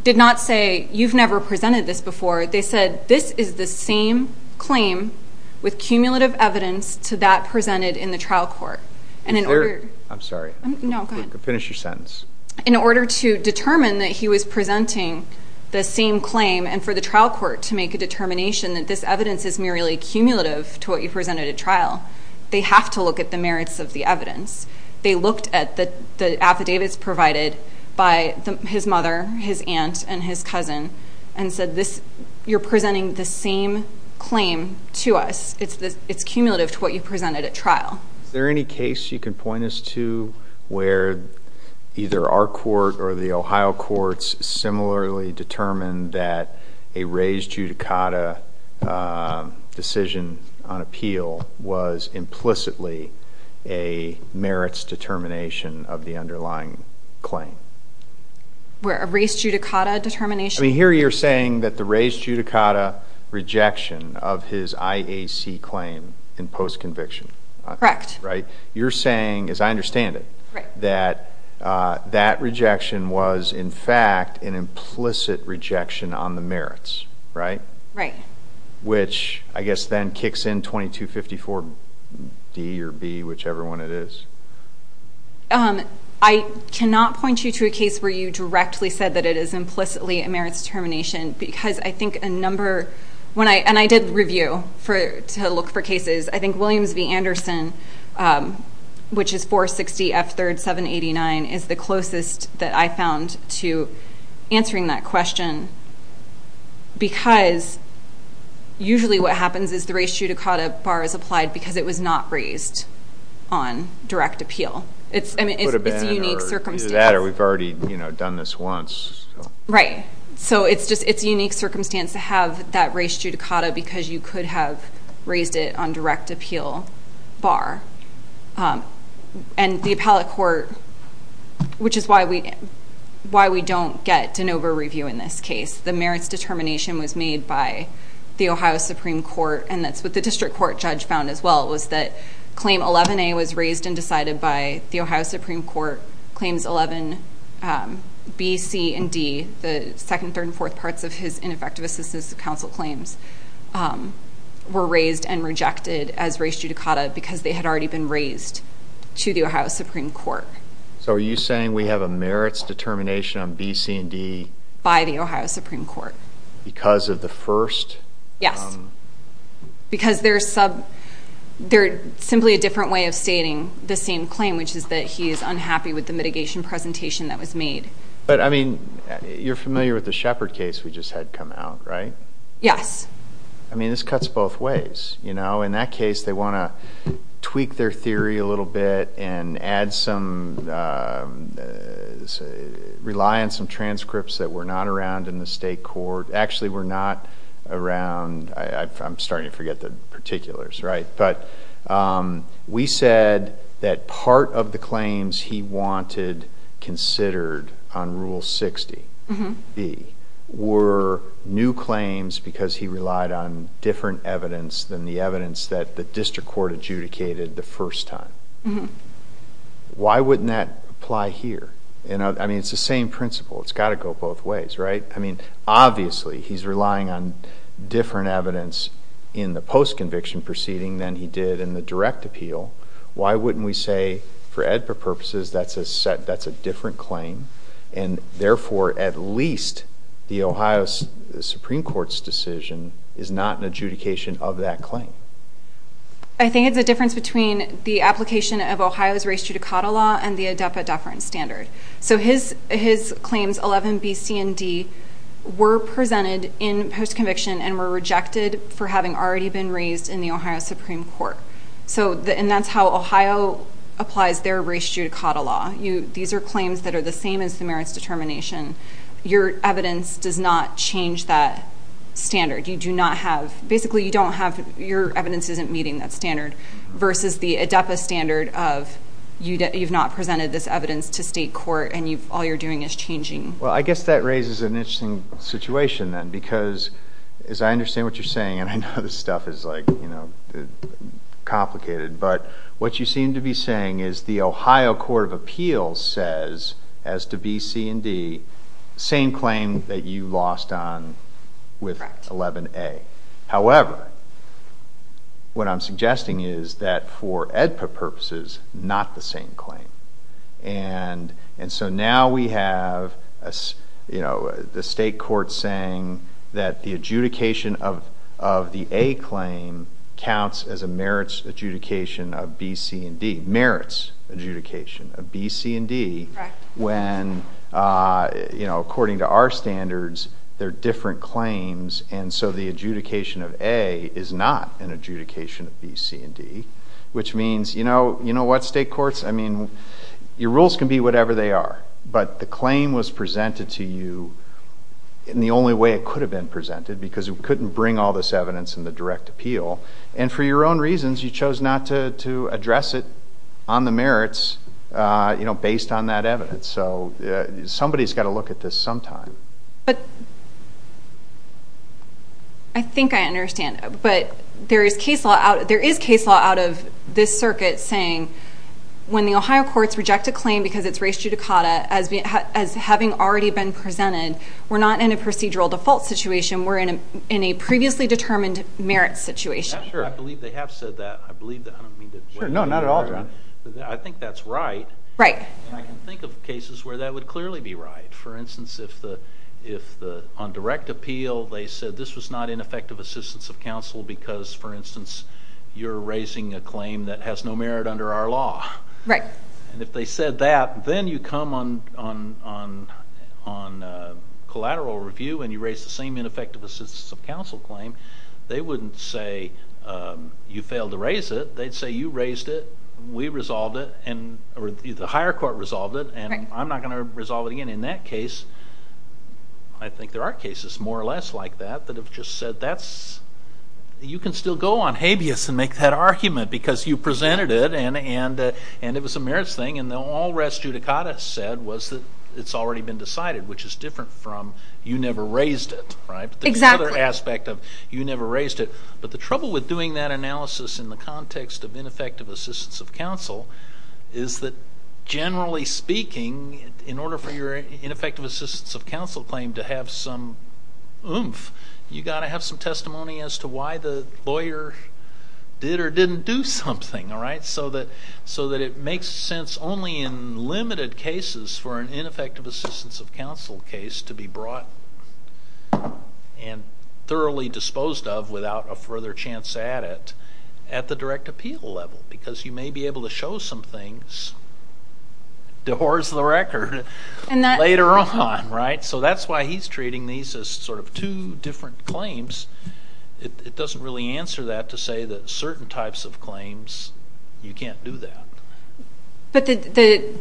did not say, you've never presented this before. They said, this is the same claim with cumulative evidence to that presented in the trial court. And in order... I'm sorry. No, go ahead. Finish your sentence. In order to determine that he was presenting the same claim, and for the trial court to make a determination that this evidence is merely cumulative to what you presented at trial, they have to look at the merits of the evidence. They looked at the affidavits provided by his mother, his aunt, and his cousin, and said, you're presenting the same claim to us. It's cumulative to what you presented at trial. Is there any case you can point us to where either our court or the Ohio courts similarly determined that a raised judicata decision on appeal was implicitly a merits determination of the underlying claim? A raised judicata determination? I mean, here you're saying that the raised judicata rejection of his IAC claim in post-conviction. Correct. You're saying, as I understand it, that that rejection was, in fact, an implicit rejection on the merits, right? Right. Which I guess then kicks in 2254 D or B, whichever one it is. I cannot point you to a case where you directly said that it is implicitly a merits determination because I think a number, and I did review to look for cases, I think Williams v. Anderson, which is 460 F3rd 789, is the closest that I found to answering that question because usually what happens is the raised judicata bar is applied because it was not raised on direct appeal. It could have been either that or we've already done this once. Right. So it's a unique circumstance to have that raised judicata because you could have raised it on direct appeal bar. And the appellate court, which is why we don't get de novo review in this case, the merits determination was made by the Ohio Supreme Court and that's what the district court judge found as well was that claim 11A was raised and decided by the Ohio Supreme Court, claims 11B, C, and D, the second, third, and fourth parts of his ineffective assistance to counsel claims were raised and rejected as raised judicata because they had already been raised to the Ohio Supreme Court. So are you saying we have a merits determination on B, C, and D? By the Ohio Supreme Court. Because of the first? Yes. Because they're simply a different way of stating the same claim, which is that he is unhappy with the mitigation presentation that was made. But, I mean, you're familiar with the Shepard case, we just had come out, right? Yeah. I mean, this cuts both ways, you know? In that case, they want to tweak their theory a little bit and add some, rely on some transcripts that were not around in the state court. Actually, were not around, I'm starting to forget the particulars, right? But we said that part of the claims he wanted considered on Rule 60B were new claims because he relied on different evidence than the evidence that the district court adjudicated the first time. Why wouldn't that apply here? I mean, it's the same principle. It's got to go both ways, right? I mean, obviously, he's relying on different evidence in the post-conviction proceeding than he did in the direct appeal. Why wouldn't we say, for AEDPA purposes, that's a different claim and therefore, at least, the Ohio Supreme Court's decision is not an adjudication of that claim? I think it's the difference between the application of Ohio's race judicata law and the AEDPA deference standard. So his claims, 11B, C, and D, were presented in post-conviction and were rejected for having already been raised in the Ohio Supreme Court. And that's how Ohio applies their race judicata law. These are claims that are the same in Samaritan's Determination. Your evidence does not change that standard. You do not have... Basically, you don't have... Your evidence isn't meeting that standard versus the AEDPA standard of you've not presented this evidence to state court and all you're doing is changing. Well, I guess that raises an interesting situation then because, as I understand what you're saying, and I know this stuff is, like, you know, complicated, but what you seem to be saying is the Ohio Court of Appeals says, as to B, C, and D, same claim that you lost on with 11A. However, what I'm suggesting is that for AEDPA purposes, not the same claim. And so now we have, you know, the state court saying that the adjudication of the A claim counts as a merits adjudication of B, C, and D. Correct. When, you know, according to our standards, they're different claims, and so the adjudication of A is not an adjudication of B, C, and D, which means, you know what, state courts? I mean, your rules can be whatever they are, but the claim was presented to you in the only way it could have been presented because it couldn't bring all this evidence in the direct appeal. And for your own reasons, you chose not to address it on the merits, you know, based on that evidence. So somebody's got to look at this sometime. But I think I understand, but there is case law out of this circuit saying when the Ohio courts reject a claim because it's res judicata, as having already been presented, we're not in a procedural default situation, we're in a previously determined merits situation. Sure, I believe they have said that. No, not at all. I think that's right. Right. I can think of cases where that would clearly be right. For instance, if on direct appeal they said this was not ineffective assistance of counsel because, for instance, you're raising a claim that has no merit under our law. Right. And if they said that, then you come on collateral review and you raise the same ineffective assistance of counsel claim, they wouldn't say you failed to raise it, they'd say you raised it, we resolved it, or the higher court resolved it, and I'm not going to resolve it again in that case. I think there are cases more or less like that that have just said that's, you can still go on habeas and make that argument because you presented it and it was a merits thing and all res judicata said was that it's already been decided, which is different from you never raised it, right? Exactly. That's another aspect of you never raised it. But the trouble with doing that analysis in the context of ineffective assistance of counsel is that generally speaking, in order for your ineffective assistance of counsel claim to have some oomph, you've got to have some testimony as to why the lawyer did or didn't do something, all right, so that it makes sense only in limited cases for an ineffective assistance of counsel case to be brought. And thoroughly disposed of without a further chance at it at the direct appeal level because you may be able to show some things, divorce the record, later on, right? So that's why he's treating these as sort of two different claims. It doesn't really answer that to say that certain types of claims, you can't do that. But the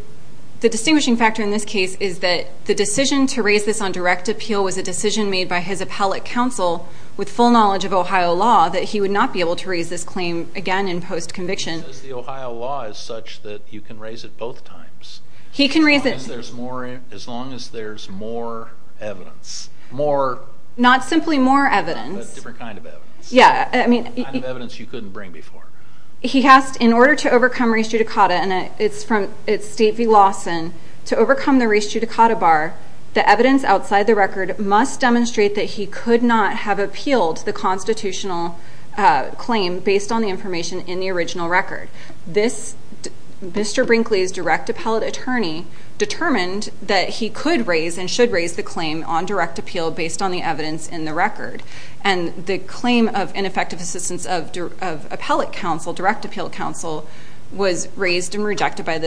distinguishing factor in this case is that the decision to raise this on direct appeal was a decision made by his appellate counsel with full knowledge of Ohio law that he would not be able to raise this claim again in post-conviction. The Ohio law is such that you can raise it both times. He can raise it... As long as there's more evidence. Not simply more evidence. Different kind of evidence. Yeah, I mean... The kind of evidence you couldn't bring before. He has, in order to overcome res judicata, and it's Stacey Lawson, to overcome the res judicata bar, the evidence outside the record must demonstrate that he could not have appealed the constitutional claim based on the information in the original record. Mr. Brinkley's direct appellate attorney determined that he could raise and should raise the claim on direct appeal based on the evidence in the record. And the claim of ineffective assistance of appellate counsel, direct appeal counsel, was raised and rejected by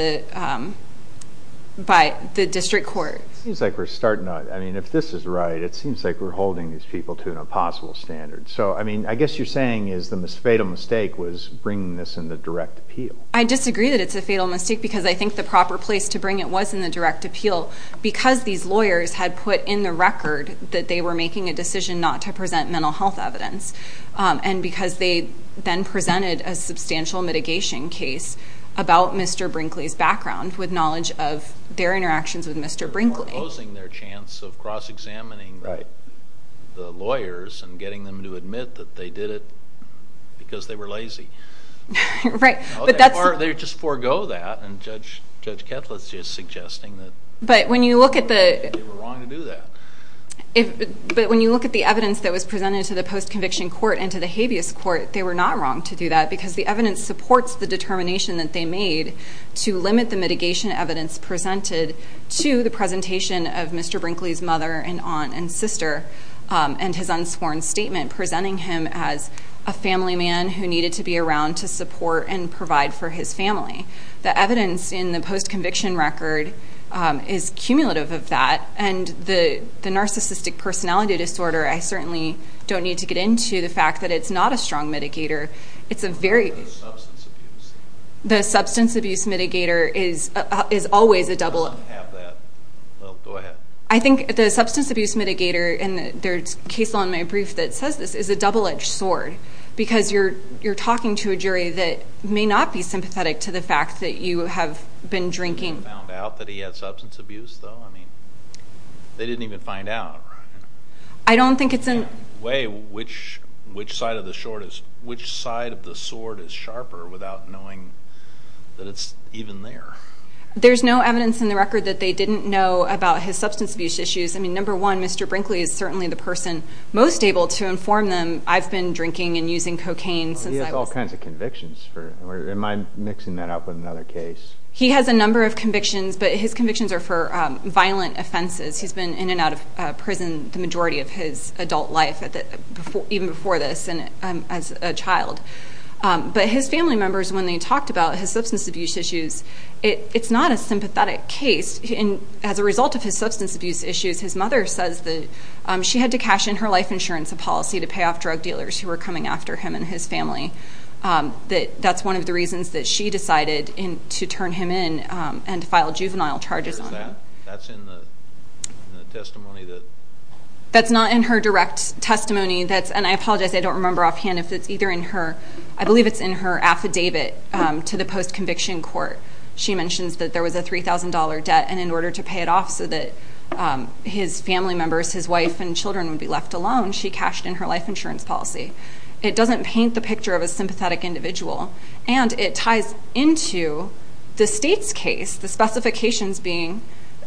the district court. It seems like we're starting to... I mean, if this is right, it seems like we're holding these people to an impossible standard. So, I mean, I guess you're saying the fatal mistake was bringing this into direct appeal. I disagree that it's a fatal mistake because I think the proper place to bring it was in the direct appeal because these lawyers had put in the record that they were making a decision not to present mental health evidence. And because they then presented a substantial mitigation case about Mr. Brinkley's background with knowledge of their interactions with Mr. Brinkley. They were opposing their chance of cross-examining the lawyers and getting them to admit that they did it because they were lazy. Right, but that's... Or they just forego that and Judge Ketletz is suggesting that... But when you look at the... They were wrong to do that. But when you look at the evidence that was presented to the post-conviction court and to the habeas court, they were not wrong to do that because the evidence supports the determination that they made to limit the mitigation evidence presented to the presentation of Mr. Brinkley's mother and aunt and sister and his unscorned statement presenting him as a family man who needed to be around to support and provide for his family. The evidence in the post-conviction record is cumulative of that and the narcissistic personality disorder I certainly don't need to get into the fact that it's not a strong mitigator. It's a very... It's a substance abuse. The substance abuse mitigator is always a double-edged sword. I don't have that. Well, go ahead. I think the substance abuse mitigator and there's a case on my brief that says this is a double-edged sword because you're talking to a jury that may not be sympathetic to the fact that you have been drinking. He found out that he had substance abuse, though? I mean, they didn't even find out, right? I don't think it's in... There's no way which side of the sword is sharper without knowing that it's even there. There's no evidence in the record that they didn't know about his substance abuse issues. I mean, number one, Mr. Brinkley is certainly the person most able to inform them I've been drinking and using cocaine. He has all kinds of convictions. Am I mixing that up with another case? He has a number of convictions, but his convictions are for violent offenses. He's been in and out of prison the majority of his adult life, even before this, as a child. But his family members, when they talked about his substance abuse issues, it's not a sympathetic case. As a result of his substance abuse issues, his mother says that she had to cash in her life insurance policy to pay off drug dealers who were coming after him and his family. That's one of the reasons that she decided to turn him in and file juvenile charges on him. That's in the testimony that... That's not in her direct testimony. And I apologize, I don't remember offhand if it's either in her... I believe it's in her affidavit to the post-conviction court. She mentions that there was a $3,000 debt and in order to pay it off so that his family members, his wife and children, would be left alone, she cashed in her life insurance policy. It doesn't paint the picture of a sympathetic individual. And it ties into the state's case, the specifications being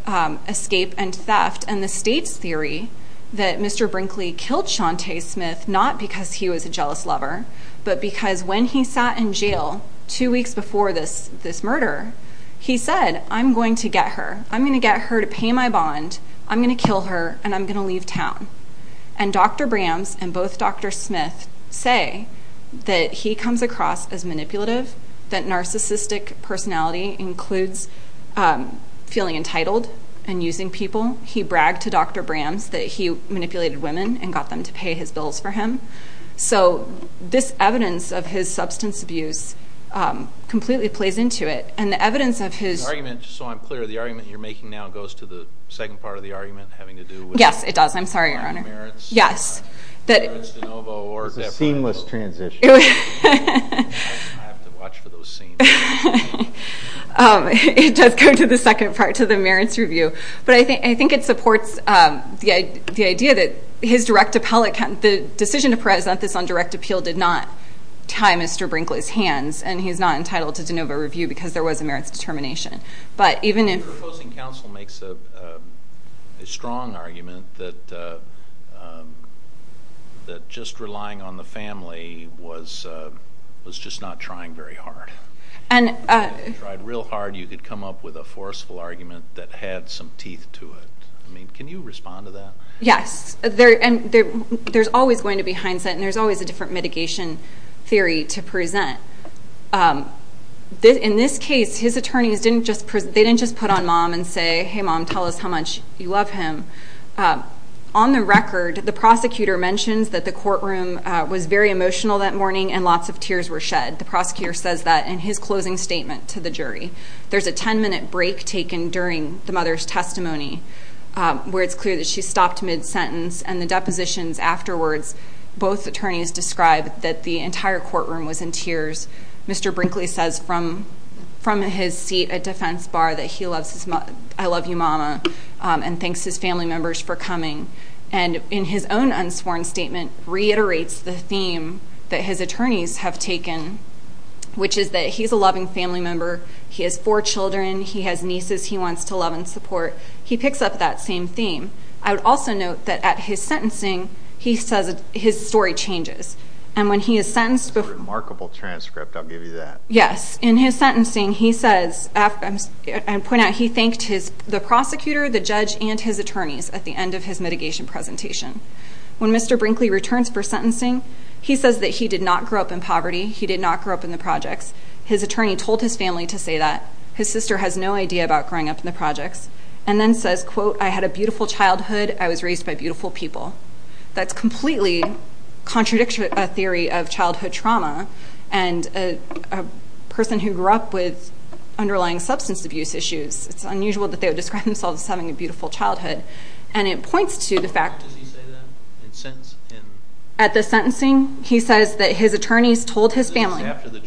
escape and theft and the state's theory that Mr. Brinkley killed Shantae Smith not because he was a jealous lover, but because when he sat in jail two weeks before this murder, he said, I'm going to get her. I'm going to get her to pay my bond. I'm going to kill her and I'm going to leave town. And Dr. Brams and both Dr. Smith say that he comes across as manipulative, that narcissistic personality includes feeling entitled and using people. He bragged to Dr. Brams that he manipulated women and got them to pay his bills for him. So this evidence of his substance abuse completely plays into it. And the evidence of his... The argument, just so I'm clear, the argument you're making now goes to the second part of the argument having to do with... Yes, it does. I'm sorry, Your Honor. The merits... Yes. The merits to Novo or... The seamless transition. I didn't have to watch for those scenes. It does go to the second part, to the merits review. But I think it supports the idea that his direct appellate... The decision to present this on direct appeal did not tie Mr. Brinkley's hands and he's not entitled to the Novo review because there was a merits determination. But even if... The opposing counsel makes a strong argument that just relying on the family was just not trying very hard. And... If you tried real hard, you could come up with a forceful argument that had some teeth to it. I mean, can you respond to that? Yes. And there's always going to be hindsight and there's always a different mitigation theory to present. In this case, his attorneys didn't just put on Mom and say, Hey, Mom, tell us how much you love him. On the record, the prosecutor mentions that the courtroom was very emotional that morning and lots of tears were shed. The prosecutor says that in his closing statement to the jury. There's a 10-minute break taken during the mother's testimony where it's clear that she stopped mid-sentence and the depositions afterwards, both attorneys described that the entire courtroom was in tears. Mr. Brinkley says from his seat at defense bar that he loves his mom. I love you, Mama. And thanks his family members for coming. And in his own unsworn statement, reiterates the theme that his attorneys have taken, which is that he's a loving family member. He has four children. He has nieces he wants to love and support. He picks up that same theme. I would also note that at his sentencing, he says his story changes. And when he is sentenced... Remarkable transcript. I'll give you that. Yes. In his sentencing, he thanked the prosecutor, the judge, and his attorneys at the end of his mitigation presentation. When Mr. Brinkley returns for sentencing, he says that he did not grow up in poverty. He did not grow up in the projects. His attorney told his family to say that. His sister has no idea about growing up in the projects. And then says, quote, I had a beautiful childhood. I was raised by beautiful people. That's completely contradictory to a theory of childhood trauma. And a person who grew up with underlying substance abuse issues, it's unusual that they would describe themselves as having a beautiful childhood. And it points to the fact... At the sentencing, he says that his attorneys told his family... After the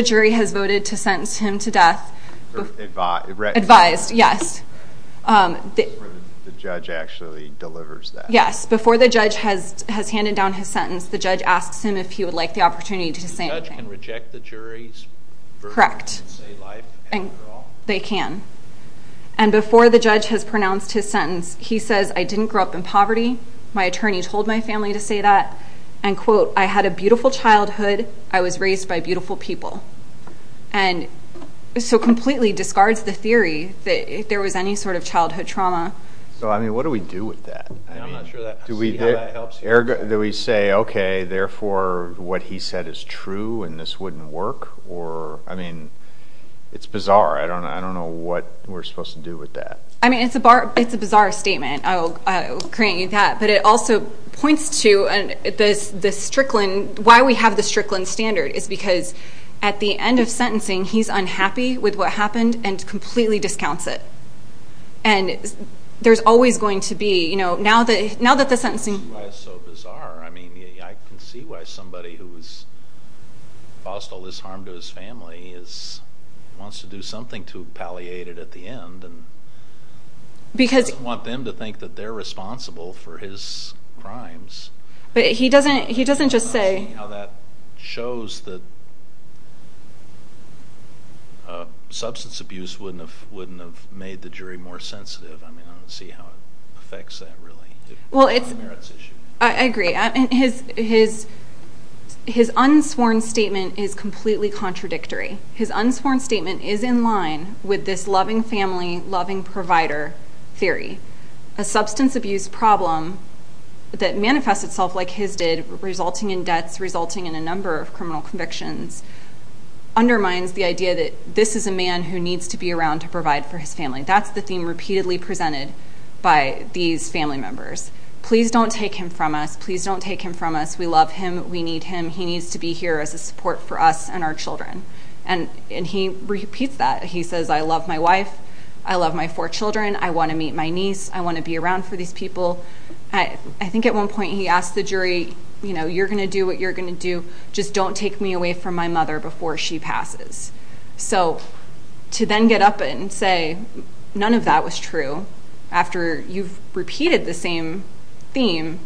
jury has voted to sentence him to death... Advise. Advise, yes. The judge actually delivers that. Yes. Before the judge has handed down his sentence, the judge asks him if he would like the opportunity to say anything. The judge can reject the jury's... Correct. They can. And before the judge has pronounced his sentence, he says, I didn't grow up in poverty. My attorney told my family to say that. And, quote, I had a beautiful childhood. I was raised by beautiful people. And so completely discards the theory that if there was any sort of childhood trauma... Well, I mean, what do we do with that? I'm not sure that... Do we say, okay, therefore what he said is true and this wouldn't work? Or, I mean, it's bizarre. I don't know what we're supposed to do with that. I mean, it's a bizarre statement. I'll grant you that. But it also points to the Strickland... Why we have the Strickland standard is because at the end of sentencing, he's unhappy with what happened and completely discounts it. And there's always going to be... You know, now that the sentencing... That's why it's so bizarre. I mean, I can see why somebody who's caused all this harm to his family wants to do something to palliate it at the end and doesn't want them to think that they're responsible for his crimes. But he doesn't just say... That shows that substance abuse wouldn't have made the jury more sensitive. I mean, I can see how it affects that, really. I agree. His unsworn statement is completely contradictory. His unsworn statement is in line with this loving family, loving provider theory. A substance abuse problem that manifests itself like his did, resulting in deaths, resulting in a number of criminal convictions, undermines the idea that this is a man who needs to be around to provide for his family. That's the theme repeatedly presented by these family members. Please don't take him from us. Please don't take him from us. We love him. We need him. He needs to be here as a support for us and our children. And he repeats that. He says, I love my wife. I love my four children. I want to meet my niece. I want to be around for these people. I think at one point he asked the jury, you know, you're going to do what you're going to do. Just don't take me away from my mother before she passes. So to then get up and say, none of that was true, after you've repeated the same theme,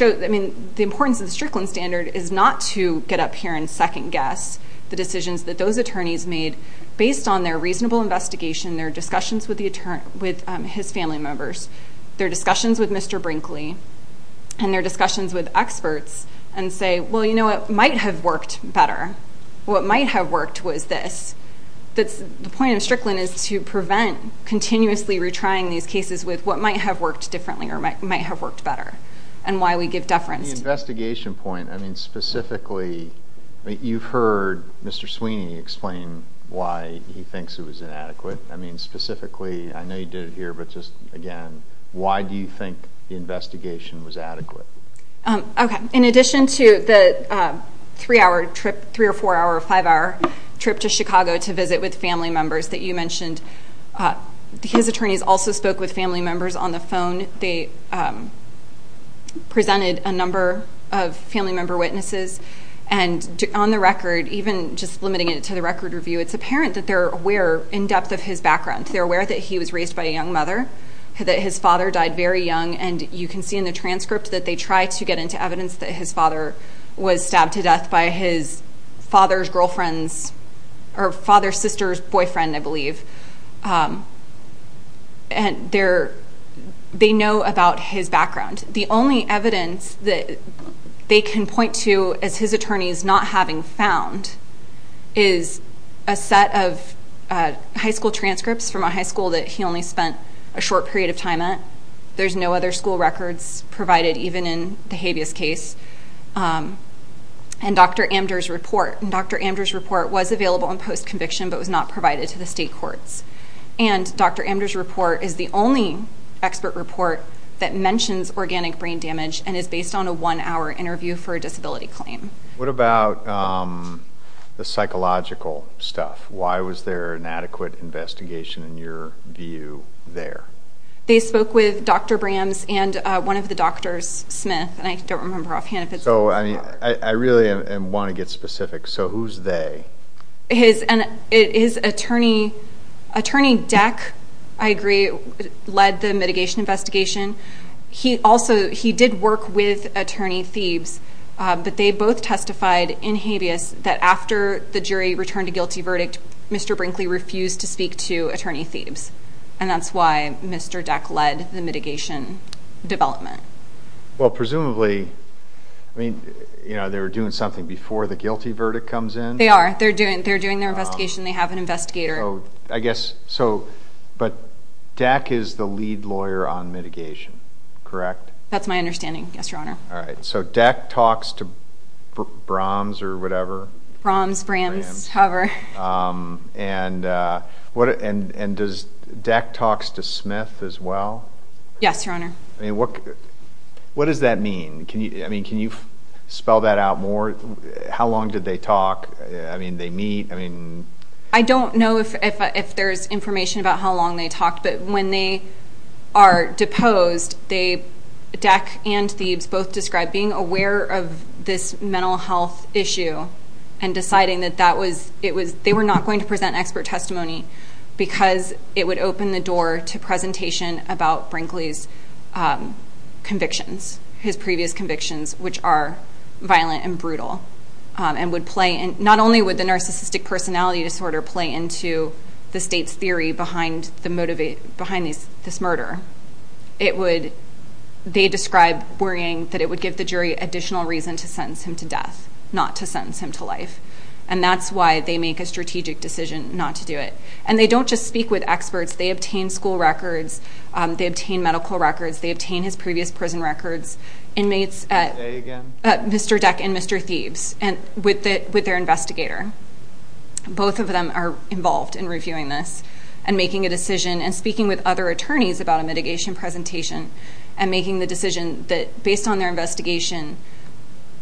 I mean, the importance of the Strickland standard is not to get up here and second guess the decisions that those attorneys made based on their reasonable investigation, their discussions with his family members, their discussions with Mr. Brinkley, and their discussions with experts, and say, well, you know what? It might have worked better. What might have worked was this. The point of Strickland is to prevent continuously retrying these cases with what might have worked differently or might have worked better, and why we give deference. The investigation point, I mean, specifically, you've heard Mr. Sweeney explain why he thinks it was inadequate. I mean, specifically, I know you did it here, but just, again, why do you think the investigation was adequate? Okay, in addition to the three-hour trip, three or four-hour or five-hour trip to Chicago to visit with family members that you mentioned, his attorneys also spoke with family members on the phone. They presented a number of family member witnesses, and on the record, even just limiting it to the record review, it's apparent that they're aware, in depth of his background, they're aware that he was raised by a young mother, that his father died very young, and you can see in the transcript that they tried to get into evidence that his father was stabbed to death by his father's girlfriend's or father's sister's boyfriend, I believe, and they know about his background. The only evidence that they can point to as his attorneys not having found is a set of high school transcripts from a high school that he only spent a short period of time at. There's no other school records provided, even in the habeas case, and Dr. Amder's report. Dr. Amder's report was available in post-conviction, but was not provided to the state courts, and Dr. Amder's report is the only expert report that mentions organic brain damage and is based on a one-hour interview for a disability claim. What about the psychological stuff? Why was there an adequate investigation, in your view, there? They spoke with Dr. Brands and one of the doctors, Smith, and I don't remember offhand if it's... I really want to get specific. Who's they? His attorney, Attorney Deck, I agree, led the mitigation investigation. He did work with Attorney Seibs, but they both testified in habeas that after the jury returned a guilty verdict, Mr. Brinkley refused to speak to Attorney Seibs, and that's why Mr. Deck led the mitigation development. Well, presumably, they were doing something before the guilty verdict comes in? They are. They're doing their investigation. They have an investigator. I guess so, but Deck is the lead lawyer on mitigation, correct? That's my understanding, yes, Your Honor. All right. So Deck talks to Brahms or whatever? And does Deck talk to Smith as well? Yes, Your Honor. What does that mean? Can you spell that out more? How long did they talk? I mean, they meet? I don't know if there's information about how long they talked, but when they are deposed, Deck and Seibs both described being aware of this mental health issue and deciding that they were not going to present expert testimony because it would open the door to presentation about Brinkley's convictions, his previous convictions, which are violent and brutal. Not only would the narcissistic personality disorder play into the state's theory behind this murder, they described worrying that it would give the jury additional reason to sentence him to death, not to sentence him to life, and that's why they make a strategic decision not to do it. And they don't just speak with experts. They obtain school records. They obtain medical records. They obtain his previous prison records. Inmates at Mr. Deck and Mr. Seibs with their investigator. Both of them are involved in reviewing this and making a decision and speaking with other attorneys about a mitigation presentation and making the decision that, based on their investigation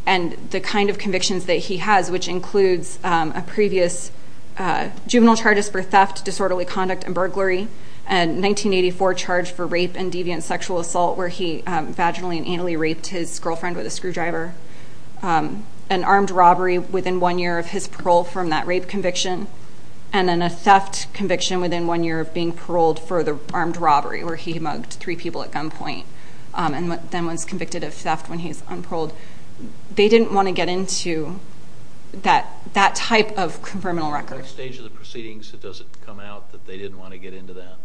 and the kind of convictions that he has, which includes a previous juvenile charges for theft, disorderly conduct and burglary, and 1984 charge for race and deviant sexual assault where he vaginally and anally raped his girlfriend with a screwdriver. An armed robbery within one year of his parole from that rape conviction and then a theft conviction within one year of being paroled for the armed robbery where he mugged three people at gunpoint and then was convicted of theft when he was paroled. They didn't want to get into that type of criminal record. At what stage of the proceedings does it come out that they didn't want to get into that?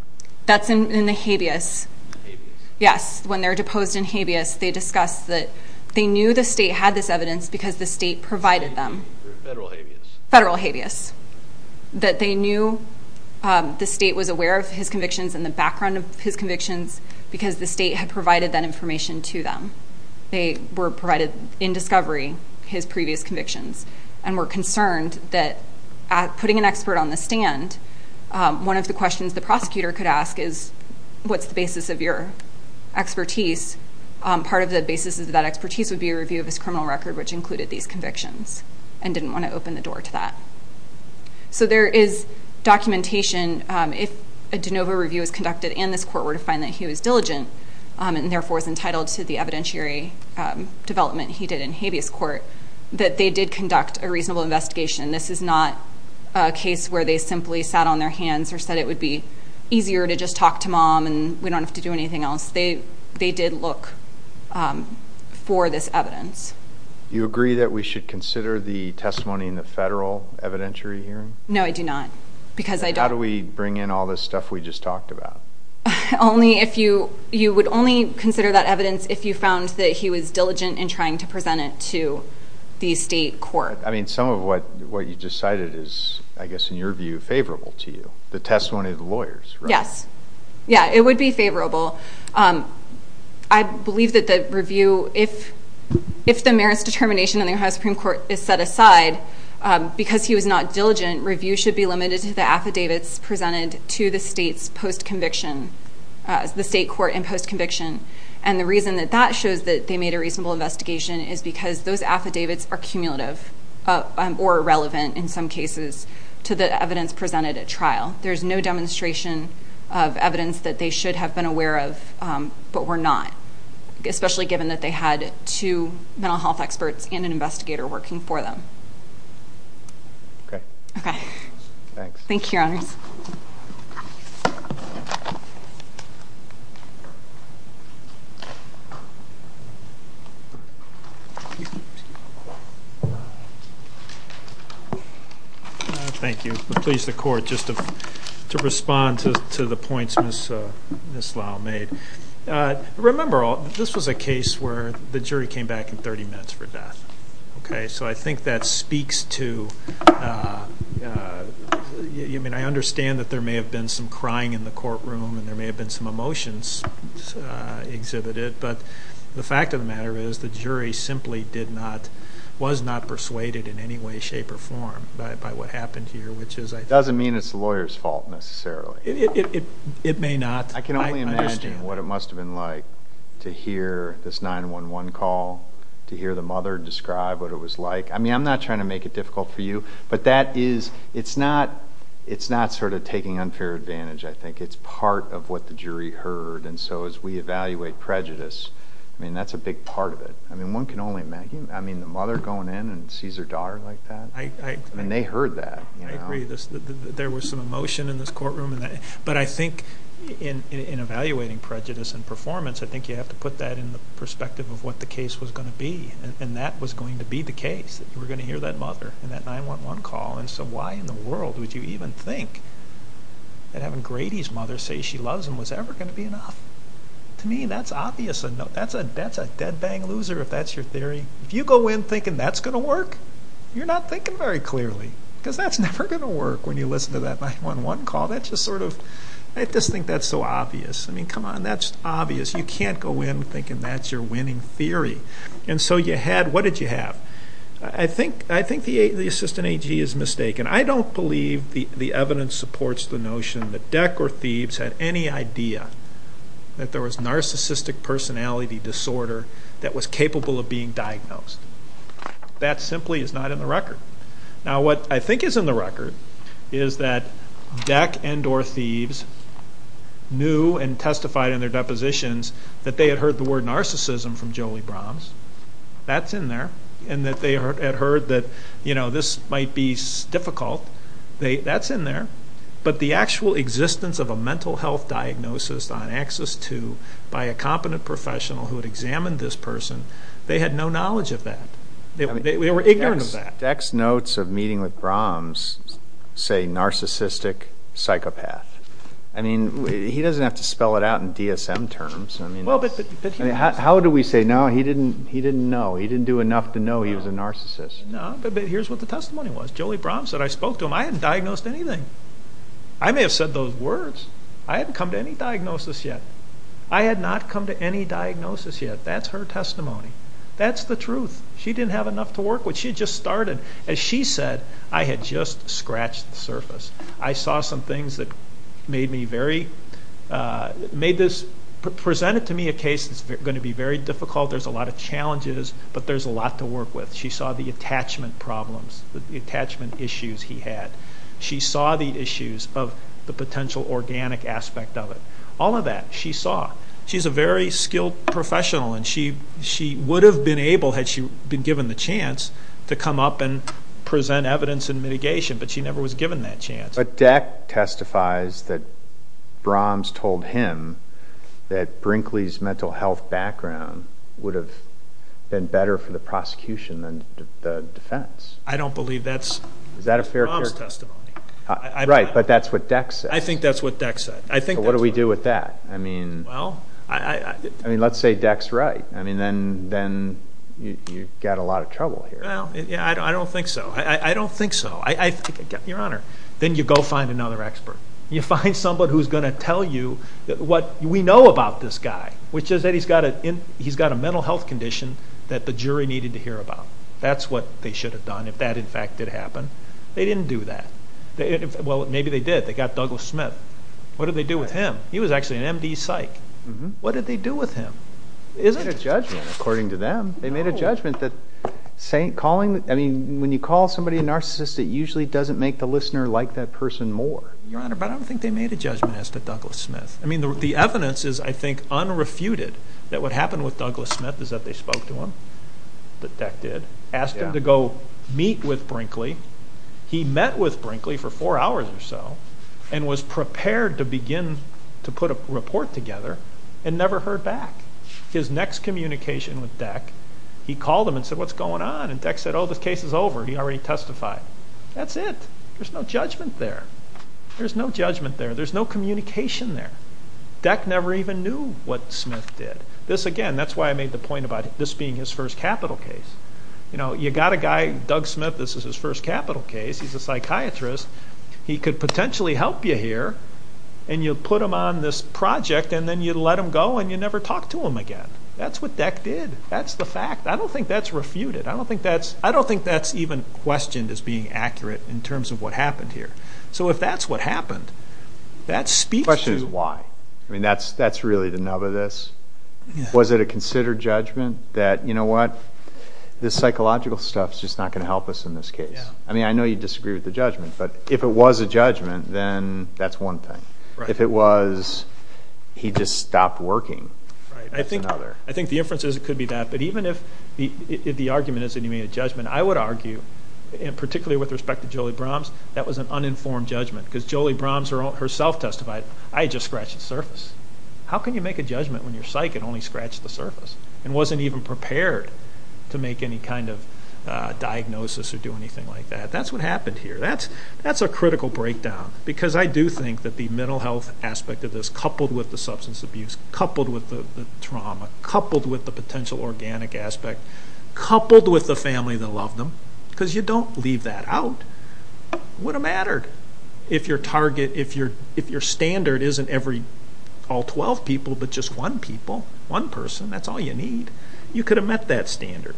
That's in the habeas. Yes. When they're deposed in habeas, they discuss that they knew the state had this evidence because the state provided them. Federal habeas. Federal habeas. That they knew the state was aware of his convictions and the background of his convictions because the state had provided that information to them. They were provided, in discovery, his previous convictions and were concerned that putting an expert on the stand, one of the questions the prosecutor could ask is, what's the basis of your expertise? Part of the basis of that expertise would be a review of his criminal record which included these convictions and didn't want to open the door to that. There is documentation. If a de novo review is conducted in this court, we're to find that he was diligent and therefore is entitled to the evidentiary development he did in habeas court that they did conduct a reasonable investigation. This is not a case where they simply sat on their hands or said it would be easier to just talk to mom and we don't have to do anything else. They did look for this evidence. You agree that we should consider the testimony in the federal evidentiary hearing? No, I do not. How do we bring in all this stuff we just talked about? You would only consider that evidence if you found that he was diligent in trying to present it to the state court. Some of what you just cited is, I guess in your view, favorable to you. The testimony of the lawyers, right? Yes, it would be favorable. I believe that the review, if the merits determination in the Ohio Supreme Court is set aside because he was not diligent, review should be limited to the affidavits presented to the state's post-conviction, the state court in post-conviction. And the reason that that shows that they made a reasonable investigation is because those affidavits are cumulative or irrelevant in some cases to the evidence presented at trial. There's no demonstration of evidence that they should have been aware of but were not, especially given that they had two mental health experts Okay. Okay. Thanks. Thank you, Henry. Thank you. Please, the court, just to respond to the points Ms. Lau made. Remember, this was a case where the jury came back in 30 minutes for death. Okay. So I think that speaks to, I understand that there may have been and there may have been some emotions, but I don't think that that speaks to But the fact of the matter is the jury simply did not, was not persuaded in any way, shape or form by what happened here, which is I think... Doesn't mean it's the lawyer's fault necessarily. It may not. I can only imagine what it must have been like to hear this 911 call, to hear the mother describe what it was like. I mean, I'm not trying to make it difficult for you, but that is, it's not sort of taking unfair advantage, I think. It's part of what the jury heard. And so as we evaluate prejudice, I mean, that's a big part of it. I mean, one can only imagine. I mean, the mother going in and sees her daughter like that. I agree. And they heard that. I agree. There was some emotion in this courtroom. But I think in evaluating prejudice and performance, I think you have to put that in the perspective of what the case was going to be. And that was going to be the case. You were going to hear that mother in that 911 call. And so why in the world would you even think that having Grady's mother say she loves him was ever going to be enough? To me, that's obvious enough. That's a dead-bang loser, if that's your theory. If you go in thinking that's going to work, you're not thinking very clearly. Because that's never going to work when you listen to that 911 call. That's just sort of, I just think that's so obvious. I mean, come on, that's obvious. You can't go in thinking that's your winning theory. And so you had, what did you have? I think the assistant AG is mistaken. I don't believe the evidence supports the notion that Deck or Thieves had any idea that there was narcissistic personality disorder that was capable of being diagnosed. That simply is not in the record. Now, what I think is in the record is that Deck and or Thieves knew and testified in their depositions that they had heard the word narcissism from Jolie Brahms. That's in there. And that they had heard that, you know, this might be difficult. That's in there. But the actual existence of a mental health diagnosis on Axis II by a competent professional who had examined this person, they had no knowledge of that. They were ignorant of that. Deck's notes of meeting with Brahms say narcissistic psychopath. I mean, he doesn't have to spell it out in DSM terms. I mean, how do we say, no, he didn't know. He didn't do enough to know he was a narcissist. No, but here's what the testimony was. Jolie Brahms said, I spoke to him. I hadn't diagnosed anything. I may have said those words. I hadn't come to any diagnosis yet. I had not come to any diagnosis yet. That's her testimony. That's the truth. She didn't have enough to work with. She had just started. As she said, I had just scratched the surface. I saw some things that made me very, made this, presented to me a case that's going to be very difficult. There's a lot of challenges, but there's a lot to work with. She saw the attachment problems, the attachment issues he had. She saw the issues of the potential organic aspect of it. All of that, she saw. She's a very skilled professional, and she would have been able, had she been given the chance, to come up and present evidence and mitigation, but she never was given that chance. But that testifies that Brahms told him that Brinkley's mental health background would have been better for the prosecution than the defense. I don't believe that's Brahms' testimony. Right, but that's what Dex said. I think that's what Dex said. What do we do with that? Let's say Dex's right. Then you've got a lot of trouble here. I don't think so. I don't think so. Your Honor, then you go find another expert. You find somebody who's going to tell you what we know about this guy, which is that he's got a mental health condition that the jury needed to hear about. That's what they should have done, if that, in fact, did happen. They didn't do that. Well, maybe they did. They got Douglas Smith. What did they do with him? He was actually an MD psych. What did they do with him? They made a judgment, according to them. They made a judgment that calling, I mean, when you call somebody a narcissist, it usually doesn't make the listener like that person more. Your Honor, but I don't think they made a judgment as to Douglas Smith. I mean, the evidence is, I think, unrefuted that what happened with Douglas Smith is that they spoke to him, that Deck did, asked him to go meet with Brinkley. He met with Brinkley for four hours or so and was prepared to begin to put a report together and never heard back. His next communication with Deck, he called him and said, what's going on? And Deck said, oh, this case is over. He already testified. That's it. There's no judgment there. There's no judgment there. There's no communication there. Deck never even knew what Smith did. This, again, that's why I made the point about this being his first capital case. You got a guy, Doug Smith, this is his first capital case. He's a psychiatrist. He could potentially help you here and you put him on this project and then you let him go and you never talk to him again. That's what Deck did. That's the fact. I don't think that's refuted. I don't think that's even questioned as being accurate in terms of what happened here. So if that's what happened, that speaks to you. Why? I mean, that's really the nub of this. Was it a considered judgment that, you know what, this psychological stuff's just not going to help us in this case? I mean, I know you disagree with the judgment, but if it was a judgment, then that's one thing. If it was he just stopped working, that's another. I think the inference could be that. But even if the argument is that you made a judgment, I would argue, particularly with respect to Jolie-Brahms, that was an uninformed judgment because Jolie-Brahms herself testified. I just scratched the surface. How can you make a judgment when your psyche had only scratched the surface and wasn't even prepared to make any kind of diagnosis or do anything like that? That's what happened here. That's a critical breakdown because I do think that the mental health aspect of this, coupled with the substance abuse, coupled with the trauma, coupled with the potential organic aspect, coupled with the family that loved them, because you don't leave that out, it wouldn't have mattered if your target, if your standard isn't all 12 people but just one people, one person. That's all you need. You could have met that standard.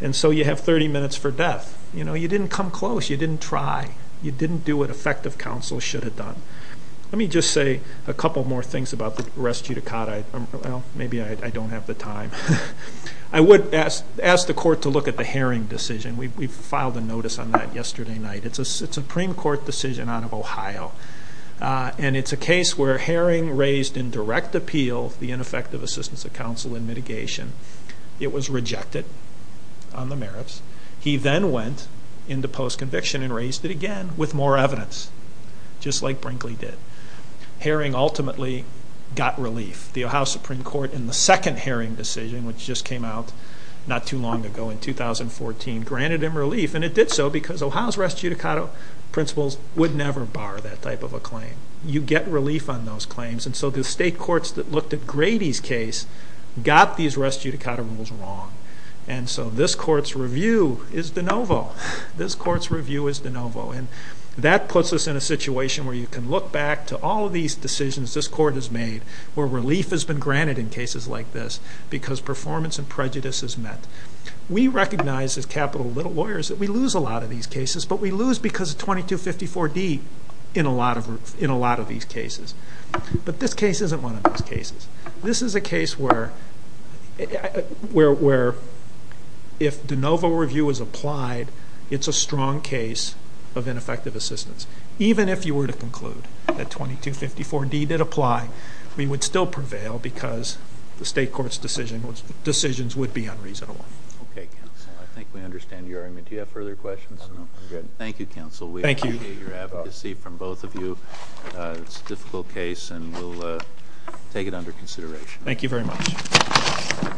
And so you have 30 minutes for death. You know, you didn't come close. You didn't try. You didn't do what effective counsel should have done. Let me just say a couple more things about the res judicata. Maybe I don't have the time. I would ask the court to look at the Herring decision. We filed a notice on that yesterday night. It's a Supreme Court decision out of Ohio, and it's a case where Herring raised in direct appeal the ineffective assistance of counsel in mitigation. It was rejected on the merits. He then went into post-conviction and raised it again with more evidence, just like Brinkley did. Herring ultimately got relief. The Ohio Supreme Court in the second Herring decision, which just came out not too long ago in 2014, granted him relief, and it did so because Ohio's res judicata principles would never bar that type of a claim. You get relief on those claims, and so the state courts that looked at Grady's case got these res judicata rules wrong. And so this court's review is de novo. This court's review is de novo, and that puts us in a situation where you can look back to all of these decisions this court has made where relief has been granted in cases like this because performance and prejudice is met. We recognize as capital lawyers that we lose a lot of these cases, but we lose because of 2254D in a lot of these cases. But this case isn't one of those cases. This is a case where if de novo review is applied, it's a strong case of ineffective assistance. Even if you were to conclude that 2254D did apply, we would still prevail because the state court's decisions would be unreasonable. Okay, counsel. I think we understand your argument. Do you have further questions? Thank you, counsel. Thank you. We appreciate your advocacy from both of you. It's a difficult case, and we'll take it under consideration. Thank you very much.